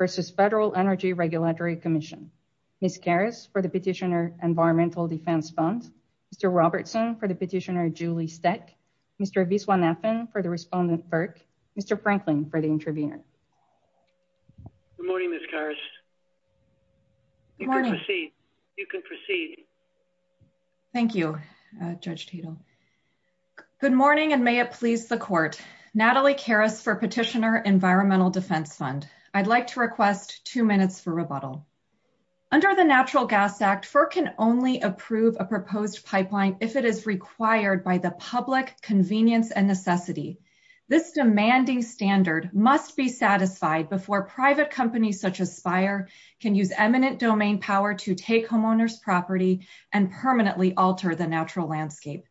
v. FEDERAL ENERGY REGULATORY COMMISSION. MISS GARRIS FOR THE PETITIONER ENVIRONMENTAL DEFENSE FUND. MR. ROBERTSON FOR THE PETITIONER JULIE SEC. MR. VISWANATHAN FOR THE RESPONDENT FERC. MR. FRANKLIN FOR THE INTERVENER. Good morning, Miss Garris. You can proceed. You can proceed. Thank you, Judge Tito. Good morning, and may it please the court. Natalie Garris for Petitioner Environmental Defense Fund. I'd like to request two minutes for rebuttal. Under the Natural Gas Act, FERC can only approve a proposed pipeline if it is required by the public's convenience and necessity. This demanding standard must be satisfied before private companies such as Spire can use eminent domain power to take homeowners' property and permanently alter the natural landscape.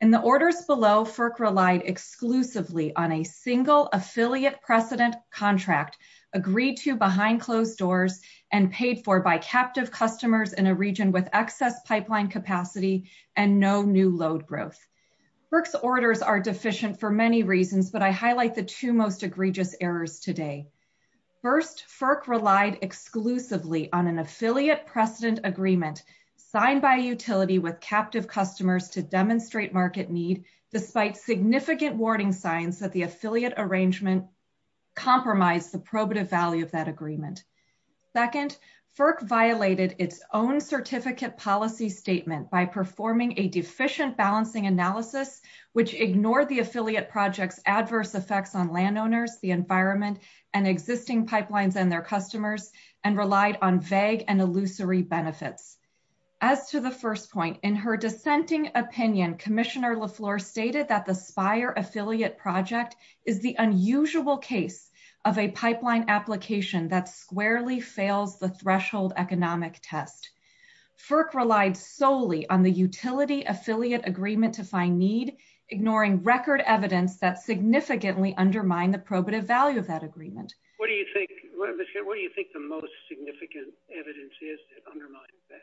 In the orders below, FERC relied exclusively on a single affiliate precedent contract agreed to behind closed doors and paid for by captive customers in a region with excess pipeline capacity and no new load growth. FERC's orders are deficient for many reasons, but I highlight the two most egregious errors today. First, FERC relied exclusively on an affiliate precedent agreement signed by utility with captive customers to demonstrate market need despite significant warning signs that the affiliate arrangement compromised the probative value of that agreement. Second, FERC violated its own certificate policy statement by performing a deficient balancing analysis, which ignored the affiliate project's adverse effects on landowners, the environment, and existing pipelines and their customers, and relied on vague and illusory benefits. As to the first point, in her dissenting opinion, Commissioner LaFleur stated that the Spire affiliate project is the unusual case of a pipeline application that squarely fails the threshold economic test. FERC relied solely on the utility affiliate agreement to find need, ignoring record evidence that significantly undermined the probative value of that agreement. What do you think the most significant evidence is that undermines that?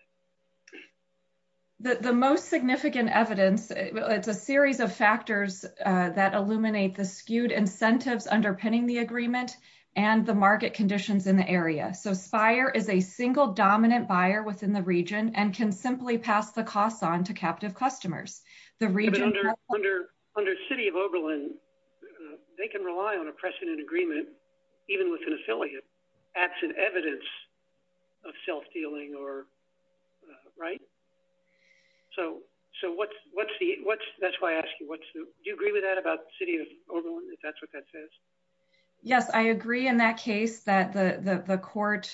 The most significant evidence is a series of factors that illuminate the skewed incentives underpinning the agreement and the market conditions in the area. So Spire is a single dominant buyer within the region and can simply pass the costs on to captive customers. But under City of Oberlin, they can rely on a precedent agreement, even with an affiliate, acts as evidence of self-dealing, right? So that's why I ask you, do you agree with that about City of Oberlin, if that's what that says? Yes, I agree in that case that the court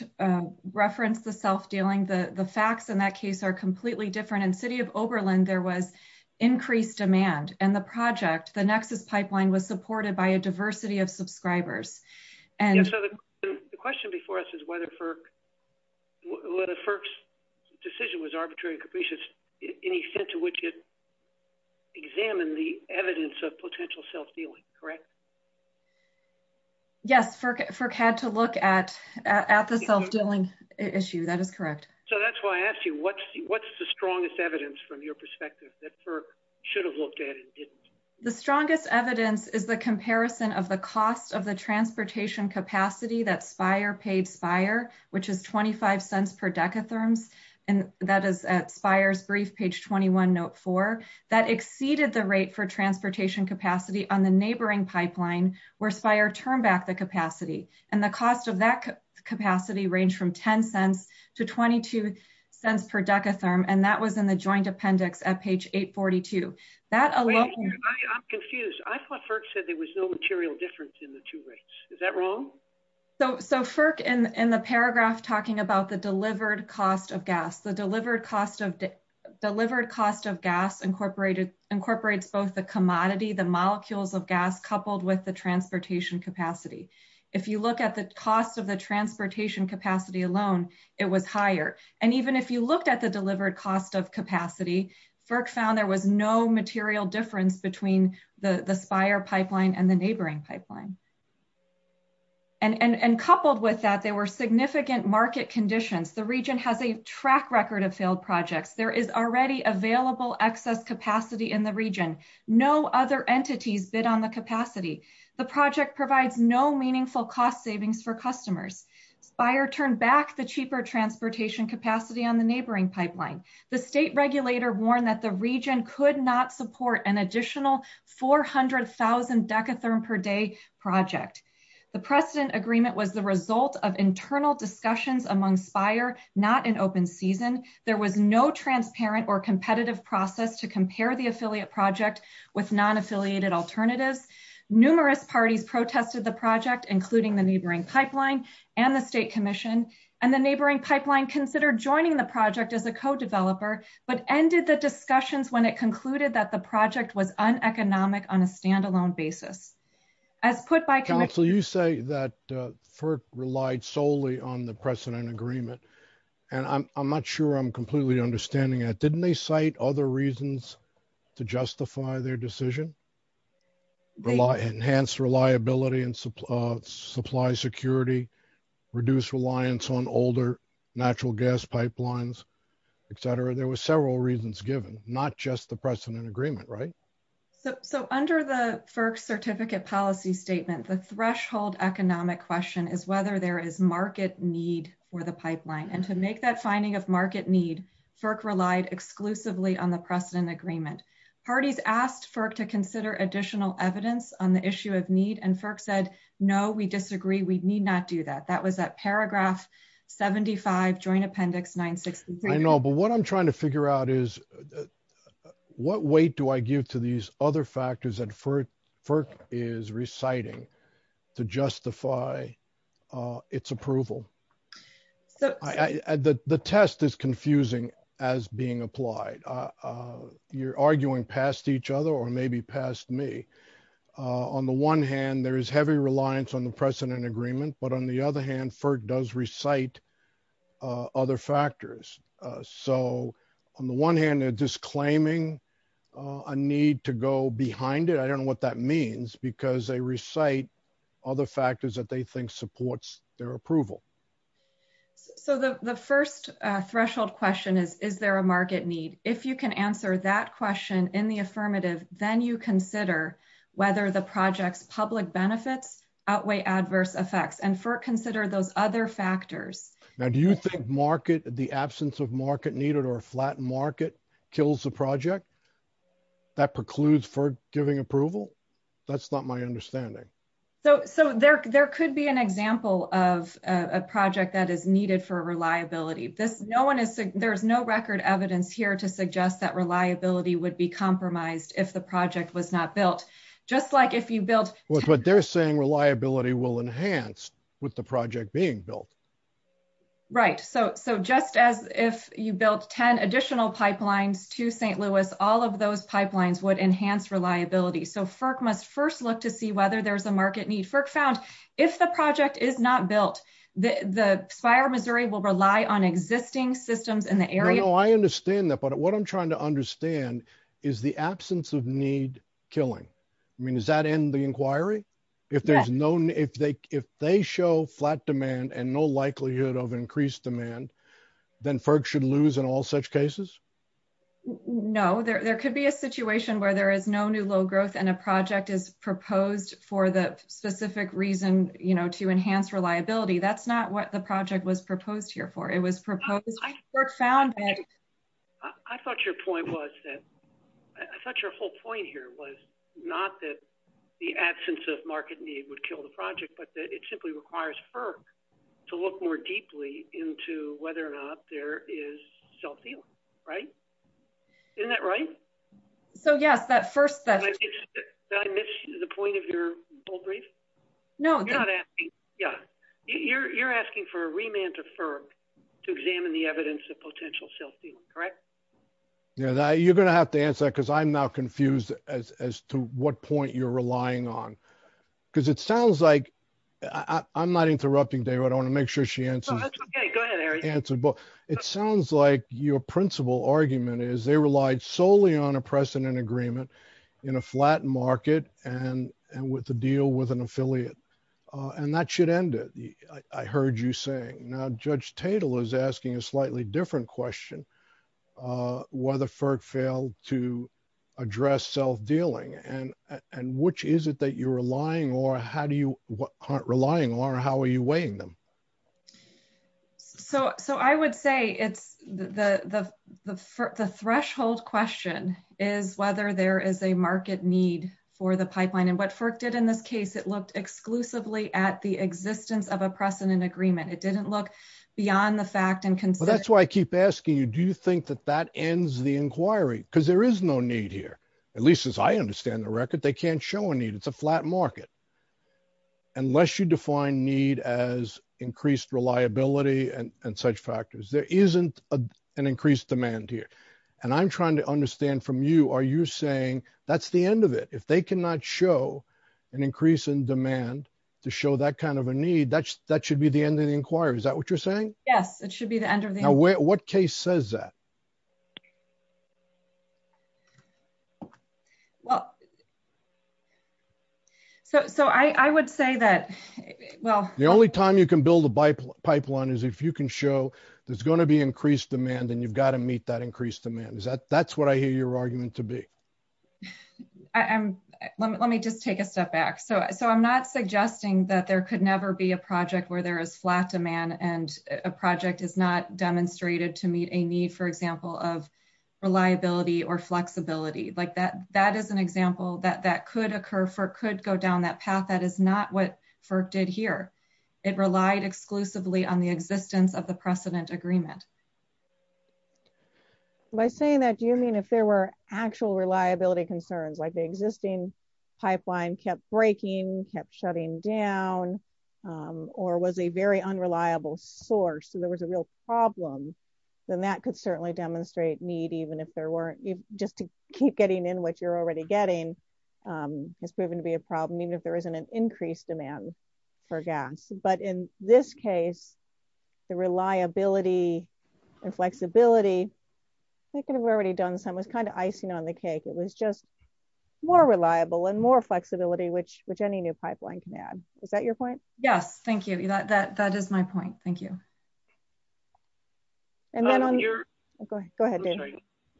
referenced the self-dealing. The facts in that case are completely different. In City of Oberlin, there was increased demand, and the project, the Nexus pipeline, was supported by a diversity of subscribers. The question before us is whether FERC's decision was arbitrary and capricious in the sense in which it examined the evidence of potential self-dealing, correct? Yes, FERC had to look at the self-dealing issue. That is correct. So that's why I ask you, what's the strongest evidence from your perspective that FERC should have looked at and didn't? The strongest evidence is the comparison of the cost of the transportation capacity that Spire paid Spire, which is $0.25 per decatherm, and that is at Spire's brief, page 21, note 4. That exceeded the rate for transportation capacity on the neighboring pipeline where Spire turned back the capacity. And the cost of that capacity ranged from $0.10 to $0.22 per decatherm, and that was in the joint appendix at page 842. I'm confused. I thought FERC said there was no material difference in the two rates. Is that wrong? So FERC, in the paragraph talking about the delivered cost of gas, the delivered cost of gas incorporates both the commodity, the molecules of gas, coupled with the transportation capacity. If you look at the cost of the transportation capacity alone, it was higher. And even if you looked at the delivered cost of capacity, FERC found there was no material difference between the Spire pipeline and the neighboring pipeline. And coupled with that, there were significant market conditions. The region has a track record of failed projects. There is already available excess capacity in the region. No other entities bid on the capacity. The project provides no meaningful cost savings for customers. Spire turned back the cheaper transportation capacity on the neighboring pipeline. The state regulator warned that the region could not support an additional 400,000 decatherm per day project. The precedent agreement was the result of internal discussions among Spire, not in open season. There was no transparent or competitive process to compare the affiliate project with non-affiliated alternatives. Numerous parties protested the project, including the neighboring pipeline and the state commission. And the neighboring pipeline considered joining the project as a co-developer, but ended the discussions when it concluded that the project was uneconomic on a standalone basis. So you say that FERC relied solely on the precedent agreement, and I'm not sure I'm completely understanding that. Didn't they cite other reasons to justify their decision? Enhance reliability and supply security, reduce reliance on older natural gas pipelines, etc.? There were several reasons given, not just the precedent agreement, right? So under the FERC certificate policy statement, the threshold economic question is whether there is market need for the pipeline. And to make that finding of market need, FERC relied exclusively on the precedent agreement. Parties asked FERC to consider additional evidence on the issue of need, and FERC said, no, we disagree, we need not do that. That was at paragraph 75, Joint Appendix 963. I know, but what I'm trying to figure out is, what weight do I give to these other factors that FERC is reciting to justify its approval? The test is confusing as being applied. You're arguing past each other or maybe past me. On the one hand, there is heavy reliance on the precedent agreement, but on the other hand, FERC does recite other factors. So on the one hand, they're just claiming a need to go behind it. I don't know what that means because they recite other factors that they think supports their approval. So the first threshold question is, is there a market need? If you can answer that question in the affirmative, then you consider whether the project's public benefits outweigh adverse effects. And FERC considered those other factors. Now, do you think the absence of market need or a flattened market kills the project that precludes FERC giving approval? That's not my understanding. So there could be an example of a project that is needed for reliability. There's no record evidence here to suggest that reliability would be compromised if the project was not built. Just like if you built- But they're saying reliability will enhance with the project being built. Right. So just as if you built 10 additional pipelines to St. Louis, all of those pipelines would enhance reliability. So FERC must first look to see whether there's a market need. FERC found if the project is not built, the fire misery will rely on existing systems in the area- No, I understand that. But what I'm trying to understand is the absence of need killing. I mean, does that end the inquiry? Yes. If they show flat demand and no likelihood of increased demand, then FERC should lose in all such cases? No. There could be a situation where there is no new low growth and a project is proposed for the specific reason to enhance reliability. That's not what the project was proposed here for. It was proposed- I thought your point was that- I thought your whole point here was not that the absence of market need would kill the project, but that it simply requires FERC to look more deeply into whether or not there is self-healing. Right? Isn't that right? So, yes, that first- Did I miss the point of your whole brief? No. You're asking for a remand to FERC to examine the evidence of potential self-healing. Correct? You're going to have to answer that because I'm now confused as to what point you're relying on. Because it sounds like- I'm not interrupting, David. I want to make sure she answers. That's okay. Go ahead, Eric. It sounds like your principal argument is they relied solely on a precedent agreement in a flat market and with a deal with an affiliate. And that should end it, I heard you saying. Now, Judge Tatel is asking a slightly different question, whether FERC failed to address self-dealing. And which is it that you're relying on or how are you weighing them? So, I would say the threshold question is whether there is a market need for the pipeline. And what FERC did in this case, it looked exclusively at the existence of a precedent agreement. It didn't look beyond the fact and- Well, that's why I keep asking you, do you think that that ends the inquiry? Because there is no need here, at least as I understand the record. They can't show a need. It's a flat market. Unless you define need as increased reliability and such factors, there isn't an increased demand here. And I'm trying to understand from you, are you saying that's the end of it? If they cannot show an increase in demand to show that kind of a need, that should be the end of the inquiry. Is that what you're saying? Yes, it should be the end of the inquiry. Now, what case says that? So, I would say that- The only time you can build a pipeline is if you can show there's going to be increased demand and you've got to meet that increased demand. That's what I hear your argument to be. Let me just take a step back. So, I'm not suggesting that there could never be a project where there is flat demand and a project is not demonstrated to meet a need, for example, of reliability or flexibility. That is an example that could occur, could go down that path. That is not what FERC did here. It relied exclusively on the existence of the precedent agreement. By saying that, do you mean if there were actual reliability concerns, like the existing pipeline kept breaking, kept shutting down, or was a very unreliable source and there was a real problem? Then that could certainly demonstrate need, even if there weren't. Just to keep getting in what you're already getting has proven to be a problem, even if there isn't an increased demand for gas. But in this case, the reliability and flexibility was kind of icing on the cake. It was just more reliable and more flexibility, which any new pipeline can add. Is that your point? Yes, thank you. That is my point. Thank you. Go ahead, Dave.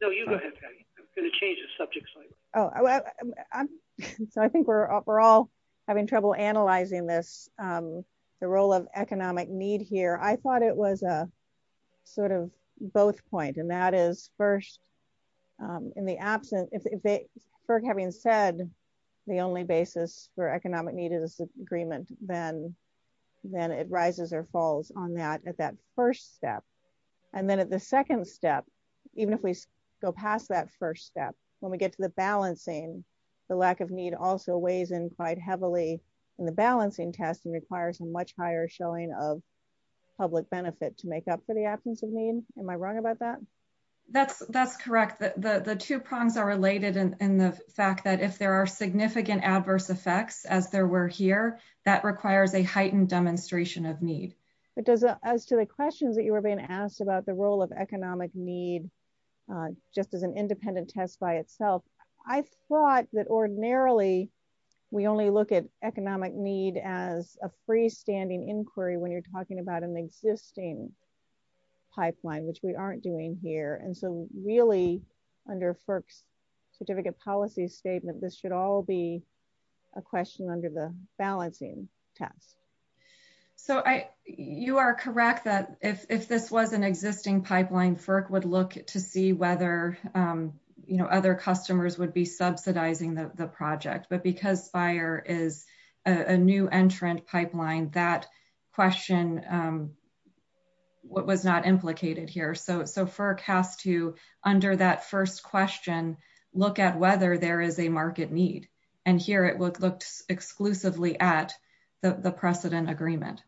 No, you go ahead, Patty. I'm going to change the subject slide. I think we're all having trouble analyzing this, the role of economic need here. I thought it was a sort of both point. And that is, first, in the absence, FERC having said the only basis for economic need is the agreement, then it rises or falls on that at that first step. And then at the second step, even if we go past that first step, when we get to the balancing, the lack of need also weighs in quite heavily in the balancing test and requires a much higher showing of public benefit to make up for the absence of need. Am I wrong about that? That's correct. The two problems are related in the fact that if there are significant adverse effects, as there were here, that requires a heightened demonstration of need. But as to the questions that you were being asked about the role of economic need, just as an independent test by itself, I thought that ordinarily we only look at economic need as a freestanding inquiry when you're talking about an existing pipeline, which we aren't doing here. And so really, under FERC's certificate policy statement, this should all be a question under the balancing test. So you are correct that if this was an existing pipeline, FERC would look to see whether other customers would be subsidizing the project. But because FIRE is a new entrant pipeline, that question was not implicated here. So FERC has to, under that first question, look at whether there is a market need. And here it looked exclusively at the precedent agreement.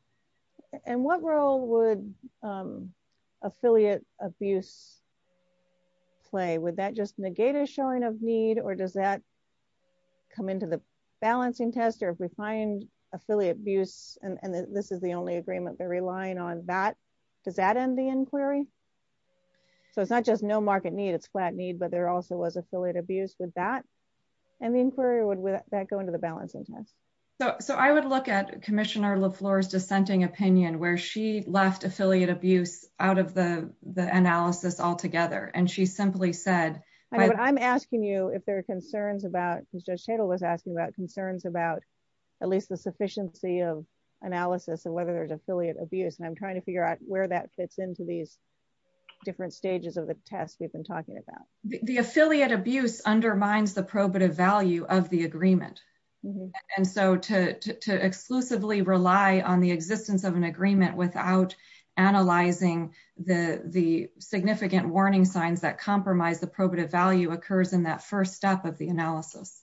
And what role would affiliate abuse play? Would that just negate a showing of need or does that come into the balancing test? If we find affiliate abuse and this is the only agreement they're relying on, does that end the inquiry? So it's not just no market need, it's flat need, but there also was affiliate abuse with that. And the inquiry would let that go into the balancing test. So I would look at Commissioner LaFleur's dissenting opinion where she left affiliate abuse out of the analysis altogether. I'm asking you if there are concerns about at least the sufficiency of analysis of whether there's affiliate abuse. And I'm trying to figure out where that fits into these different stages of the test we've been talking about. The affiliate abuse undermines the probative value of the agreement. And so to exclusively rely on the existence of an agreement without analyzing the significant warning signs that compromise the probative value occurs in that first step of the analysis.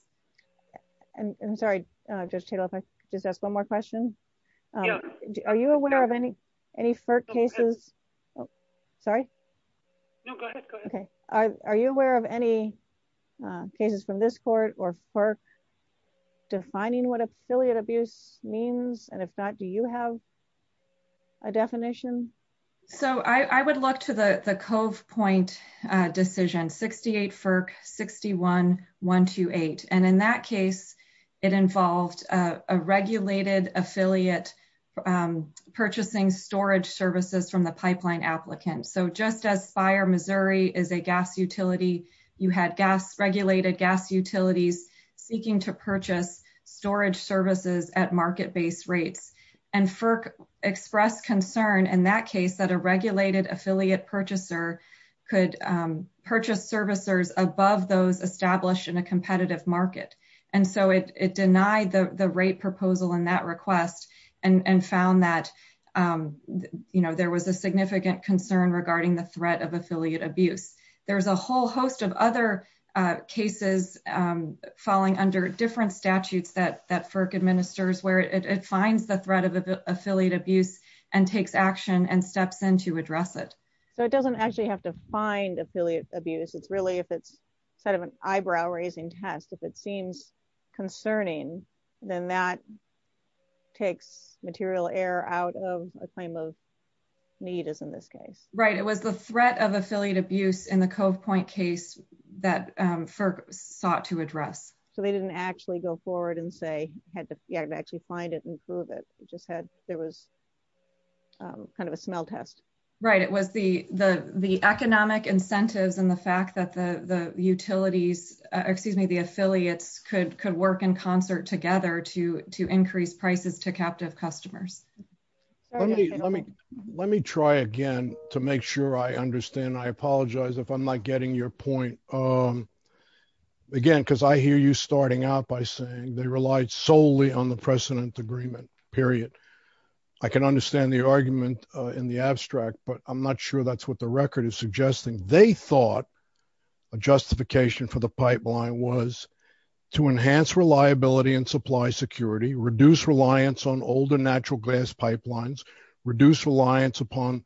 I'm sorry, Judge Tatel, if I could just ask one more question. Are you aware of any FERC cases? Sorry? No, go ahead. Are you aware of any cases from this court or FERC defining what affiliate abuse means? And if not, do you have a definition? So I would look to the Cove Point decision, 68 FERC 61128. And in that case, it involved a regulated affiliate purchasing storage services from the pipeline applicant. So just as Fire Missouri is a gas utility, you had regulated gas utilities seeking to purchase storage services at market-based rates. And FERC expressed concern in that case that a regulated affiliate purchaser could purchase servicers above those established in a competitive market. And so it denied the rate proposal in that request and found that, you know, there was a significant concern regarding the threat of affiliate abuse. There's a whole host of other cases falling under different statutes that FERC administers where it finds the threat of affiliate abuse and takes action and steps in to address it. So it doesn't actually have to find affiliate abuse. It's really if it's sort of an eyebrow-raising test. If it seems concerning, then that takes material error out of a claim of need, as in this case. Right. It was the threat of affiliate abuse in the Cove Point case that FERC sought to address. So they didn't actually go forward and say, you have to actually find it and prove it. It was kind of a smell test. Right. It was the economic incentives and the fact that the utilities, excuse me, the affiliates could work in concert together to increase prices to captive customers. Let me try again to make sure I understand. I apologize if I'm not getting your point. Again, because I hear you starting out by saying they relied solely on the precedent agreement, period. I can understand the argument in the abstract, but I'm not sure that's what the record is suggesting. They thought a justification for the pipeline was to enhance reliability and supply security, reduce reliance on older natural gas pipelines, reduce reliance upon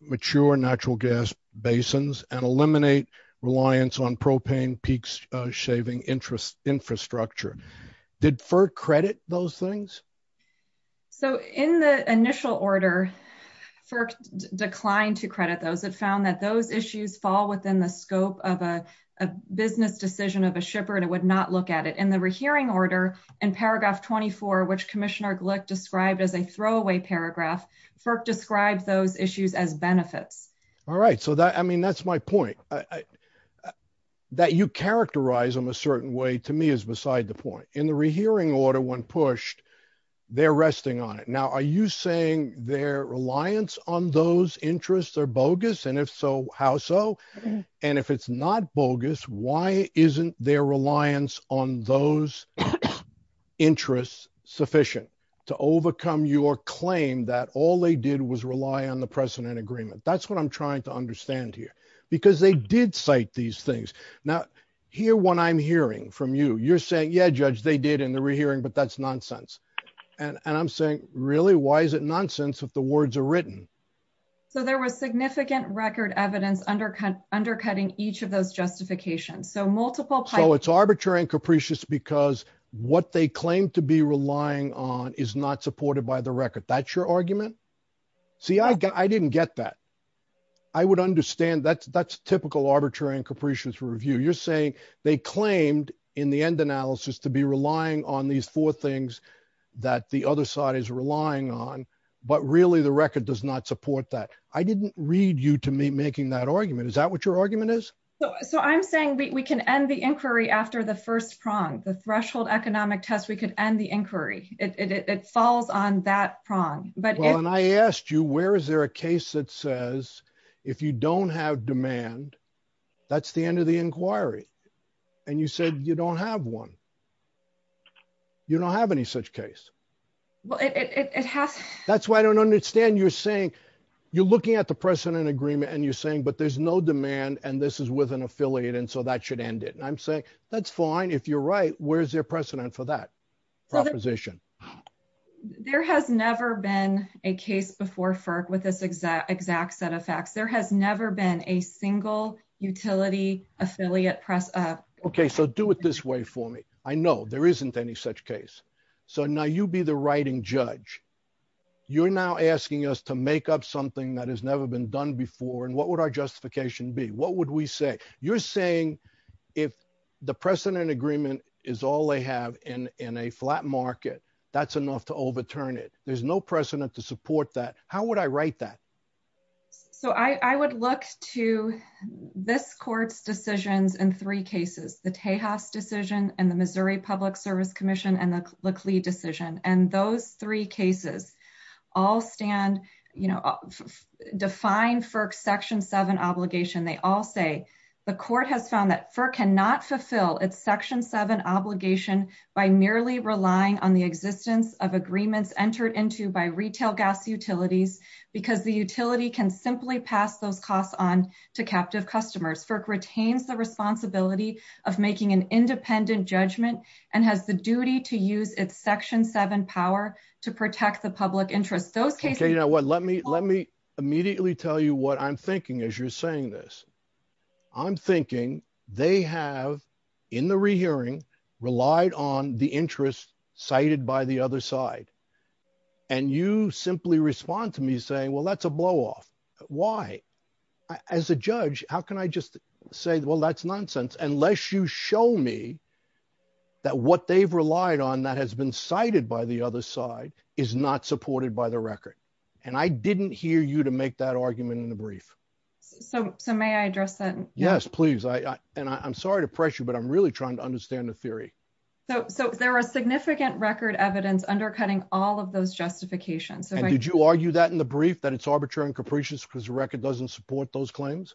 mature natural gas basins, and eliminate reliance on propane peaks shaving infrastructure. Did FERC credit those things? So in the initial order, FERC declined to credit those. It found that those issues fall within the scope of a business decision of a shipper and it would not look at it. In the rehearing order in paragraph 24, which Commissioner Glick described as a throwaway paragraph, FERC described those issues as benefits. That's my point. That you characterize them a certain way, to me, is beside the point. In the rehearing order, when pushed, they're resting on it. Now, are you saying their reliance on those interests are bogus? And if so, how so? And if it's not bogus, why isn't their reliance on those interests sufficient to overcome your claim that all they did was rely on the precedent agreement? That's what I'm trying to understand here. Because they did cite these things. Now, hear what I'm hearing from you. You're saying, yeah, Judge, they did in the rehearing, but that's nonsense. And I'm saying, really, why is it nonsense if the words are written? So there was significant record evidence undercutting each of those justifications. So it's arbitrary and capricious because what they claim to be relying on is not supported by the record. That's your argument? See, I didn't get that. I would understand that's typical arbitrary and capricious review. You're saying they claimed in the end analysis to be relying on these four things that the other side is relying on. But, really, the record does not support that. I didn't read you to me making that argument. Is that what your argument is? So I'm saying we can end the inquiry after the first prong. The threshold economic test, we can end the inquiry. It falls on that prong. Well, and I asked you where is there a case that says if you don't have demand, that's the end of the inquiry. And you said you don't have one. You don't have any such case. That's why I don't understand you're saying you're looking at the precedent agreement and you're saying but there's no demand and this is with an affiliate and so that should end it. And I'm saying that's fine if you're right. Where is there precedent for that proposition? There has never been a case before FERC with this exact set of facts. There has never been a single utility affiliate. Okay. So do it this way for me. I know there isn't any such case. So now you be the writing judge. You're now asking us to make up something that has never been done before and what would our justification be? What would we say? You're saying if the precedent agreement is all they have in a flat market, that's enough to overturn it. There's no precedent to support that. How would I write that? So I would look to this court's decisions in three cases. The Tejas decision and the Missouri Public Service Commission and the Lickley decision. And those three cases all stand, you know, defined for section 7 obligation. They all say the court has found that FERC cannot fulfill its section 7 obligation by merely relying on the existence of agreements entered into by retail gas utilities because the utility can simply pass those costs on to captive customers. FERC retains the responsibility of making an independent judgment and has the duty to use its section 7 power to protect the public interest. Let me immediately tell you what I'm thinking as you're saying this. I'm thinking they have, in the rehearing, relied on the interest cited by the other side. And you simply respond to me saying, well, that's a blow off. Why? As a judge, how can I just say, well, that's nonsense, unless you show me that what they've relied on that has been cited by the other side is not supported by the record. And I didn't hear you to make that argument in the brief. So may I address that? Yes, please. And I'm sorry to pressure you, but I'm really trying to understand the theory. So there are significant record evidence undercutting all of those justifications. Did you argue that in the brief, that it's arbitrary and capricious because the record doesn't support those claims?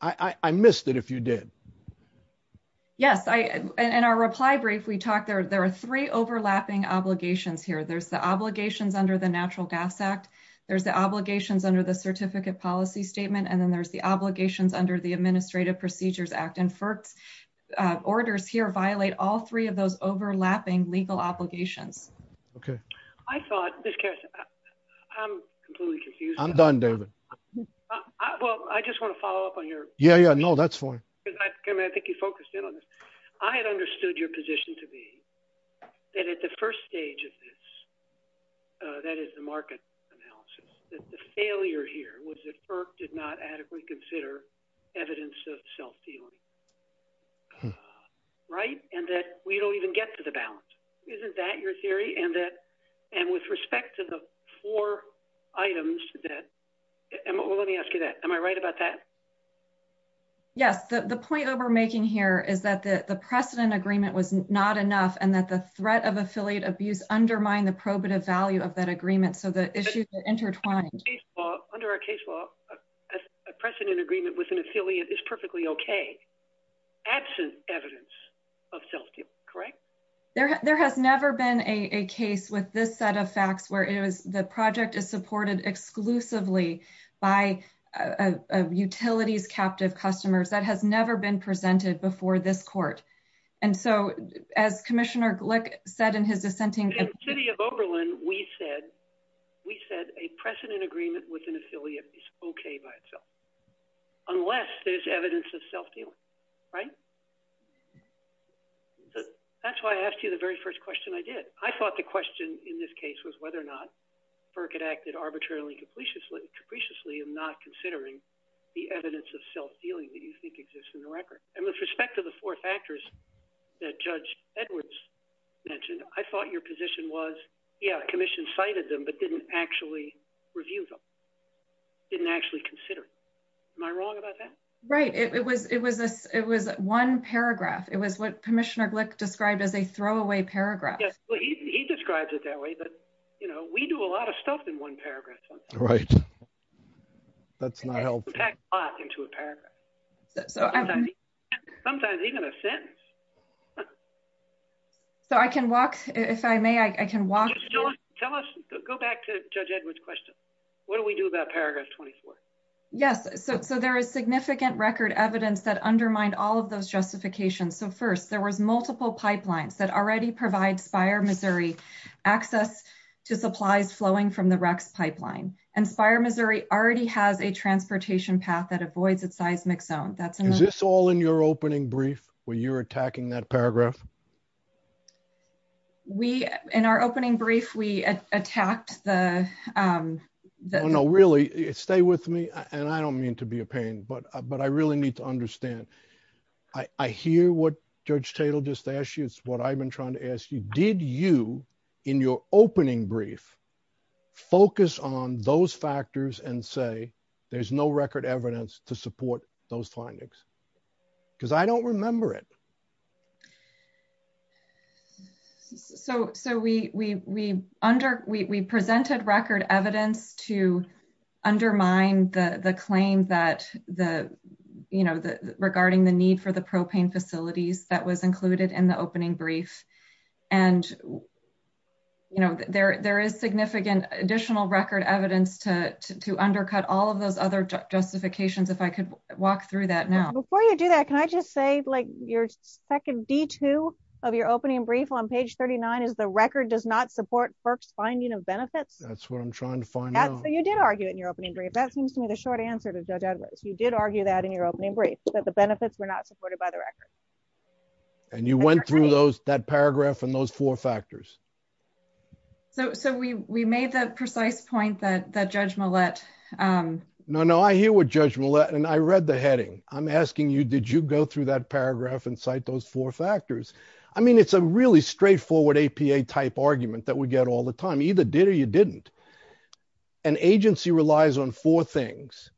I missed it if you did. Yes. In our reply brief, we talked, there are three overlapping obligations here. There's the obligations under the Natural Gas Act. There's the obligations under the Certificate Policy Statement. And then there's the obligations under the Administrative Procedures Act. And FERC orders here violate all three of those overlapping legal obligations. Okay. I thought, Ms. Carson, I'm completely confused. I'm done, David. Well, I just want to follow up on your question. Yeah, yeah, no, that's fine. I think you focused in on this. I had understood your position to be that at the first stage of this, that is the market analysis, that the failure here was that FERC did not adequately consider evidence of self-dealing. Right? And that we don't even get to the balance. Isn't that your theory? And with respect to the four items that, well, let me ask you that. Am I right about that? Yes. The point that we're making here is that the precedent agreement was not enough and that the threat of affiliate abuse undermined the probative value of that agreement. So the issues are intertwined. Under our case law, a precedent agreement with an affiliate is perfectly okay, absent evidence of self-dealing. Correct? There has never been a case with this set of facts where the project is supported exclusively by a utility's captive customers. That has never been presented before this court. And so, as Commissioner Glick said in his dissenting. In the city of Oberlin, we said a precedent agreement with an affiliate is okay by itself, unless there's evidence of self-dealing. Right? That's why I asked you the very first question I did. I thought the question in this case was whether or not FERC had acted arbitrarily, capriciously in not considering the evidence of self-dealing that you think exists in the record. And with respect to the four factors that Judge Edwards mentioned, I thought your position was, yeah, the commission cited them, but didn't actually review them, didn't actually consider them. Am I wrong about that? Right. It was one paragraph. It was what Commissioner Glick described as a throwaway paragraph. He describes it that way, that, you know, we do a lot of stuff in one paragraph. Right. That's my health. We pack a lot into a paragraph. Sometimes even a sentence. So I can walk, if I may, I can walk. Go back to Judge Edwards' question. What do we do about paragraph 24? Yes. So there is significant record evidence that undermined all of those justifications. So first, there was multiple pipelines that already provide Spire, Missouri, access to supplies flowing from the Rex pipeline. And Spire, Missouri, already has a transportation path that avoids a seismic zone. Is this all in your opening brief where you're attacking that paragraph? We, in our opening brief, we attacked the ‑‑ No, no, really, stay with me, and I don't mean to be a pain, but I really need to understand. I hear what Judge Tatel just asked you, what I've been trying to ask you. Did you, in your opening brief, focus on those factors and say, there's no record evidence to support those findings? Because I don't remember it. So we presented record evidence to undermine the claim that, you know, regarding the need for the propane facilities that was included in the opening brief. And, you know, there is significant additional record evidence to undercut all of those other justifications, if I could walk through that now. Before you do that, can I just say, like, your second D2 of your opening brief on page 39 is the record does not support FERC's finding of benefits? That's what I'm trying to find out. You did argue it in your opening brief. That seems to me the short answer to Judge Edwards. You did argue that in your opening brief, that the benefits were not supported by the record. And you went through that paragraph and those four factors. So we made that precise point that Judge Millett ‑‑ No, no, I hear what Judge Millett, and I read the heading. I'm asking you, did you go through that paragraph and cite those four factors? I mean, it's a really straightforward APA-type argument that we get all the time. Either did or you didn't. An agency relies on four things.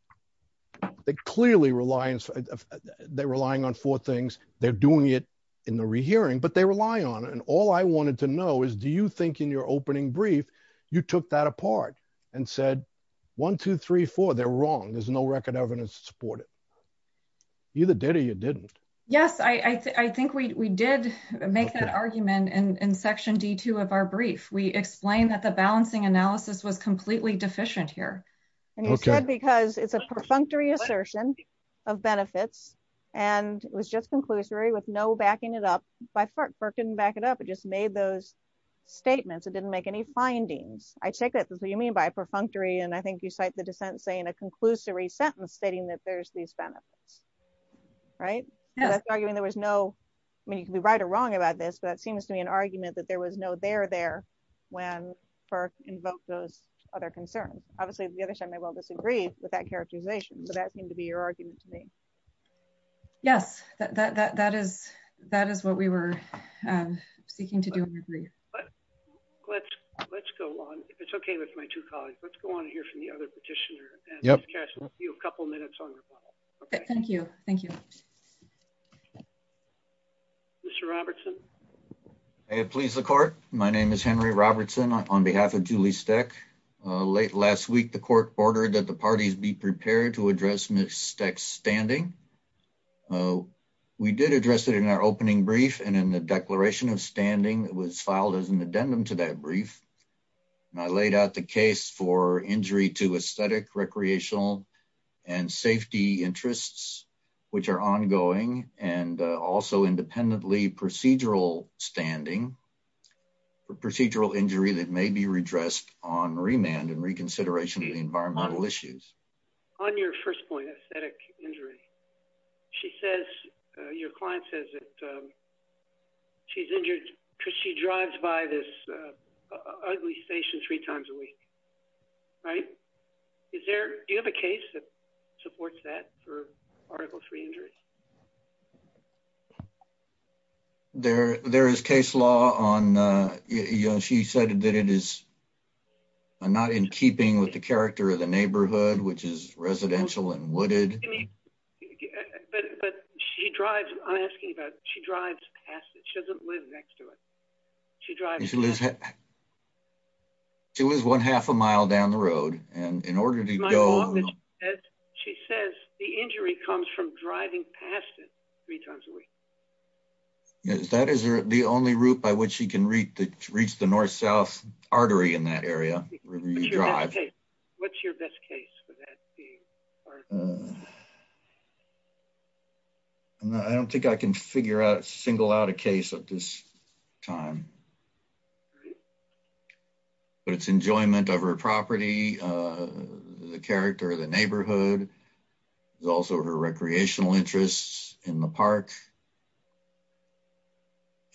It clearly relies ‑‑ they're relying on four things. They're doing it in the rehearing. But they rely on it. And all I wanted to know is, do you think in your opening brief you took that apart and said, one, two, three, four, they're wrong. There's no record evidence to support it. Either did or you didn't. Yes, I think we did make that argument in section D2 of our brief. We explained that the balancing analysis was completely deficient here. Okay. Because it's a perfunctory assertion of benefits. And it was just conclusory with no backing it up. By far, it didn't back it up. It just made those statements. It didn't make any findings. I take that. You mean by perfunctory. And I think you cite the defense saying a conclusory sentence stating that there's these benefits. Right? Yeah. That's arguing there was no ‑‑ I mean, you could be right or wrong about this. But it seems to be an argument that there was no they're there when FERC invoked those other concerns. Obviously, the other side may well disagree with that characterization. But that seemed to be your argument to me. Yeah. That is what we were speaking to do in the brief. Let's go on. It's okay with my two colleagues. Let's go on and hear from the other petitioner. We have a couple minutes on the floor. Okay. Thank you. Thank you. Mr. Robertson. Hey, please, the court. My name is Henry Robertson on behalf of Julie Steck. Late last week, the court ordered that the parties be prepared to address Ms. Steck's standing. We did address it in our opening brief. And in the declaration of standing, it was filed as an addendum to that brief. And I laid out the case for injury to aesthetic, recreational, and safety interests, which are ongoing. And also independently procedural standing for procedural injury that may be redressed on remand and reconsideration of environmental issues. On your first point, aesthetic injury, she says, your client says that she's injured because she drives by this ugly station three times a week. Right? Do you have a case that supports that for Article III injuries? There is case law on, you know, she said that it is not in keeping with the character of the neighborhood, which is residential and wooded. But she drives, I'm asking about, she drives past it. She doesn't live next to it. She drives past it. She says the injury comes from driving past it three times a week. Is that the only route by which she can reach the north-south artery in that area? What's your best case for that? I don't think I can figure out, single out a case at this time. It's enjoyment of her property, the character of the neighborhood. It's also her recreational interests in the park.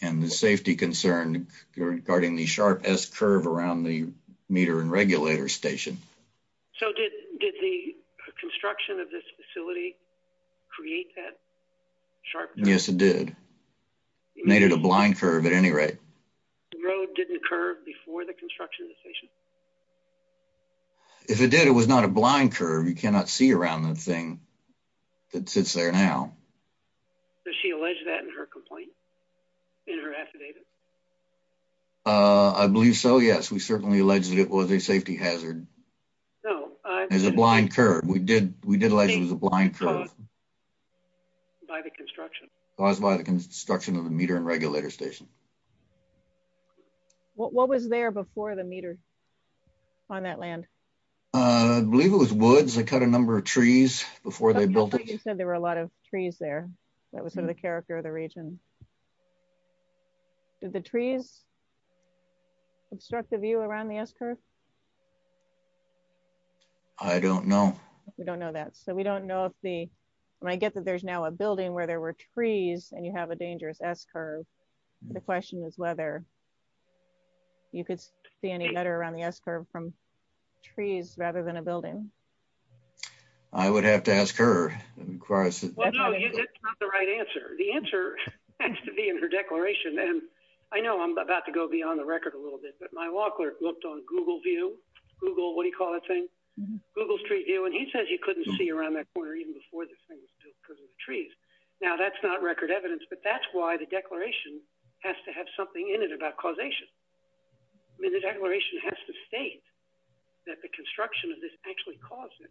And the safety concern regarding the sharp S curve around the meter and regulator station. So did the construction of this facility create that sharp S curve? Yes, it did. It made it a blind curve at any rate. The road didn't curve before the construction of the station? If it did, it was not a blind curve. You cannot see around the thing that sits there now. Does she allege that in her complaint, in her affidavit? I believe so, yes. We certainly allege that it was a safety hazard. No. It was a blind curve. We did allege it was a blind curve. By the construction. By the construction of the meter and regulator station. What was there before the meter on that land? I believe it was woods. They cut a number of trees before they built it. You said there were a lot of trees there. That was sort of the character of the region. Did the trees obstruct the view around the S curve? I don't know. We don't know that. We don't know if the, I guess, if there's now a building where there were trees and you have a dangerous S curve. The question is whether. You could see any better on the S curve from. Trees rather than a building. I would have to ask her. The right answer. The answer. To be in her declaration. I know I'm about to go beyond the record a little bit, but my law clerk looked on Google view. Google, what do you call it? Google street view. And he says, you couldn't see around that corner. Even before the trees. Now that's not record evidence, but that's why the declaration has to have something in it about causation. I mean, the declaration has to state. That the construction of this actually caused it.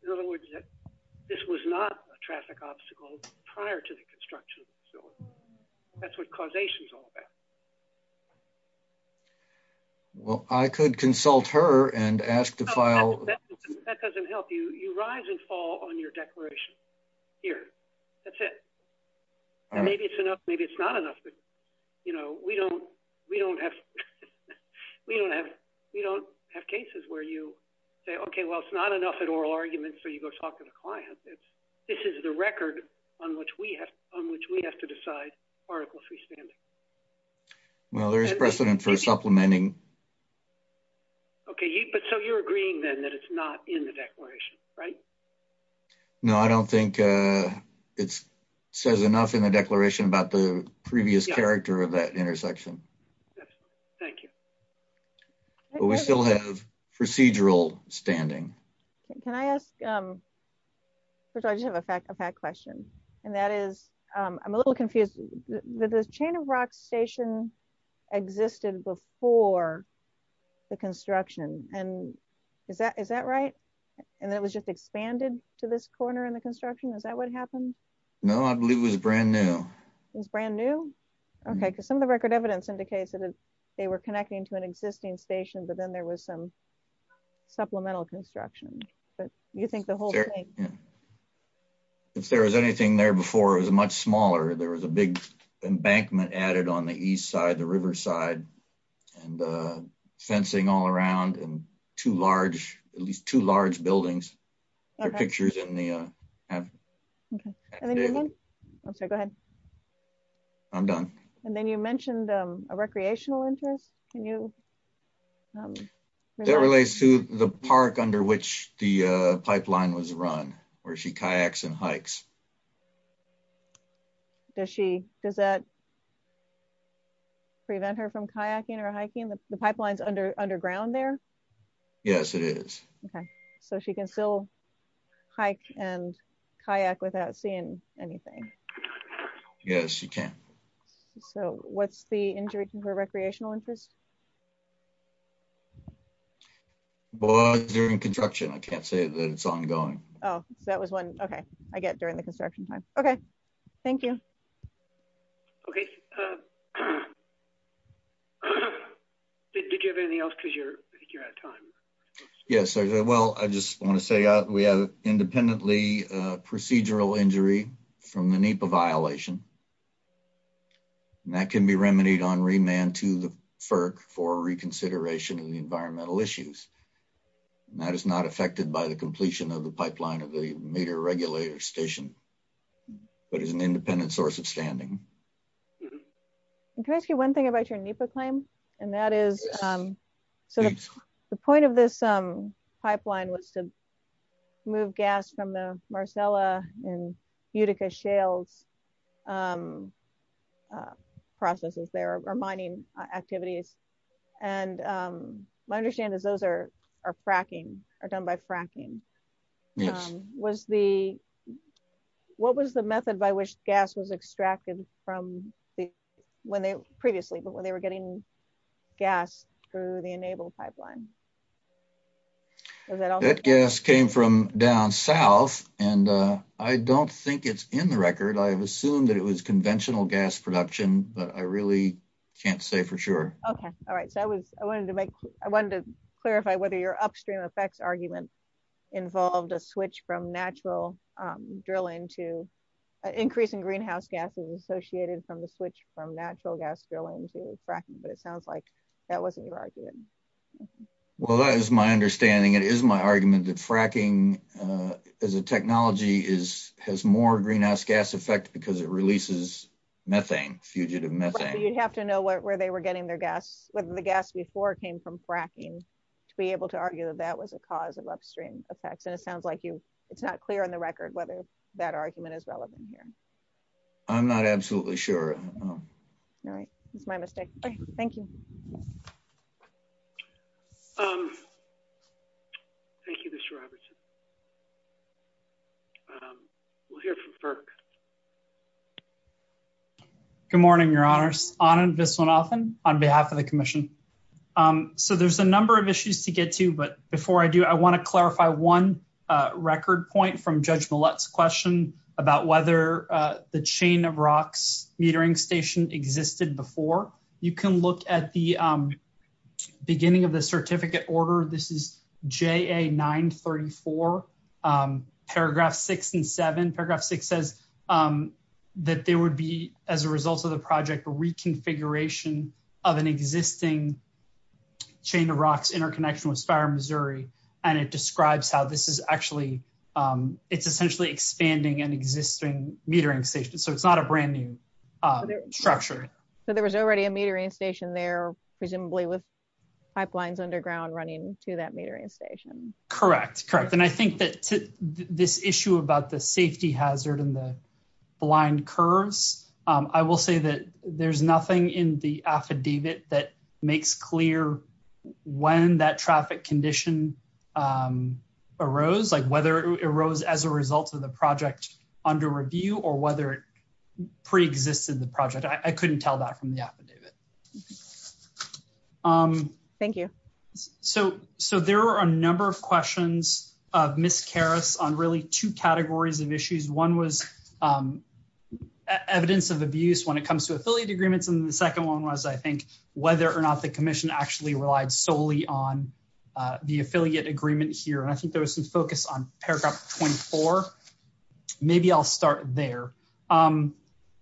This was not a traffic obstacle prior to the construction. That's what causation is all about. Well, I could consult her and ask the file. That doesn't help you. You rise and fall on your declaration. Here. That's it. Maybe it's enough. Maybe it's not enough. You know, we don't, we don't have. We don't have. We don't have cases where you say, okay, well, it's not enough at oral arguments. So you go talk to the client. This is the record on which we have, on which we have to decide. Okay. Article three. Well, there's precedent for supplementing. Okay. So you're agreeing then that it's not in the declaration. Right. No, I don't think. It says enough in the declaration about the previous character of that intersection. Thank you. We still have procedural standing. Can I ask. Yeah. I just have a fact of fact question. And that is. I'm a little confused. The chain of rock station. Existed before. The construction and. Is that, is that right? And that was just expanded to this corner in the construction. Is that what happened? No, I believe it was a brand new. Brand new. Okay. Okay. Okay. Some of the record evidence indicates that they were connecting to an existing station, but then there was some. Supplemental construction. But you think the whole. If there was anything there before it was a much smaller, there was a big. Embankment added on the East side, the Riverside. And the. Fencing all around. Too large. At least two large buildings. Okay. I'm done. And then you mentioned. A recreational interest. Can you. That relates to the park under which. The pipeline was run. Or she kayaks and hikes. Does she, does that. Prevent her from kayaking or hiking. The pipelines under underground there. Yes, it is. Okay. Okay. So she can still. Hike and kayak without seeing anything. Yes, you can. So what's the injury. Recreational interest. During construction. I can't say that it's ongoing. Oh, that was one. Okay. I get during the construction. Okay. Thank you. Okay. Okay. Did you have anything else? Cause you're, you're out of time. Yes. Well, I just want to say we have independently. Procedural injury. From the NEPA violation. And that can be remedied on remand to the FERC for reconsideration of the environmental issues. And that is not affected by the completion of the pipeline of the NEPA. It's a non-meter regulator station. But it's an independent source of standing. Actually one thing about your NEPA claim. And that is. The point of this pipeline was. Move gas from the Marcella and Utica shales. Processes there are mining activities. And. Gas extraction. My understanding is those are, are fracking are done by fracking. Was the. What was the method by which gas was extracted from. When they previously, but when they were getting. Gas. Through the enabled pipeline. I don't think it's in the record. I've assumed that it was conventional gas production, but I really can't say for sure. Okay. All right. I wanted to make, I wanted to clarify whether your upstream effects argument. Involved a switch from natural. To fracking. it sounds like there was a potential drilling to. Increase in greenhouse gases associated from the switch from natural gas drilling. But it sounds like that wasn't your idea. Well, that is my understanding. It is my argument that fracking. As a technology is, has more greenhouse gas effect because it releases. Methane fugitive. You'd have to know what, where they were getting their gas. I'm not sure. I'm not sure. Whether the gas before it came from fracking. To be able to argue that that was a cause of upstream effects. And it sounds like you. It's not clear on the record, whether that argument is relevant. I'm not absolutely sure. All right. Thank you. Thank you. Thank you. We'll hear from FERC. Good morning, your honors on this one often on behalf of the commission. So there's a number of issues to get to, but before I do, I want to clarify one. Record point from judge. Let's question about whether. The chain of rocks metering station existed before. I'm not sure. You can look at the. Beginning of the certificate order. This is J a nine 34. Paragraph six and seven. Paragraph six says. That there would be as a result of the project, a reconfiguration of an existing. Chain of rocks interconnection with spire, Missouri. And it describes how this is actually. It's essentially expanding an existing metering station. So it's not a brand new. Structure. So there was already a metering station there. Presumably with. Pipelines underground running to that metering station. Correct. Correct. And I think that this issue about the safety hazard in the. Blind curves. I will say that there's nothing in the affidavit that makes clear. When that traffic condition. Arose like whether it arose as a result of the project. Under review or whether it. Pre-existing the project. I couldn't tell that from the affidavit. Thank you. So, so there were a number of questions. And I think there was some focus on. Miss Kara's on really two categories of issues. One was. Evidence of abuse when it comes to affiliate agreements. And the second one was, I think, whether or not the commission actually relied solely on. The affiliate agreement here. And I think there was some focus on paragraph 24. Maybe I'll start there. And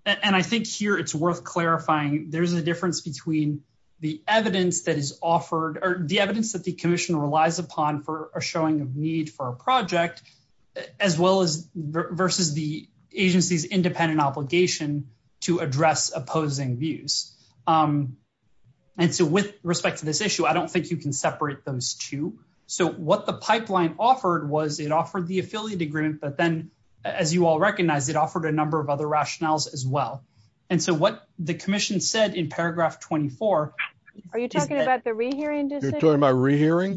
I think here it's worth clarifying. There's a difference between the evidence that is offered or the evidence that the commission relies upon for a showing of need for a project. As well as versus the agency's independent obligation. To address opposing views. And so with respect to this issue, I don't think you can separate those two. I think that's a good point. I think that's a good point. So what the pipeline offered was it offered the affiliate agreement, but then. As you all recognize it offered a number of other rationales as well. And so what the commission said in paragraph 24. Are you talking about the re-hearing?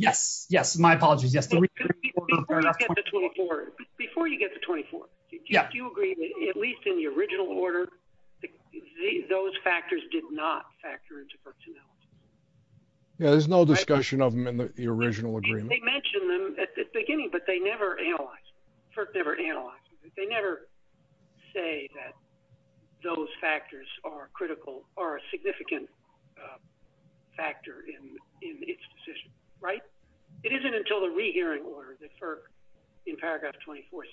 Yes. Yes. My apologies. Before you get to 24. Yeah. You agree with, at least in the original order. Yeah. Those factors did not factor into. Yeah. There's no discussion of them in the original. They mentioned them at the beginning, but they never analyzed. They never. Say that. Those factors are critical are significant. Factor in. Right. It isn't until the re-hearing order. In paragraph 24.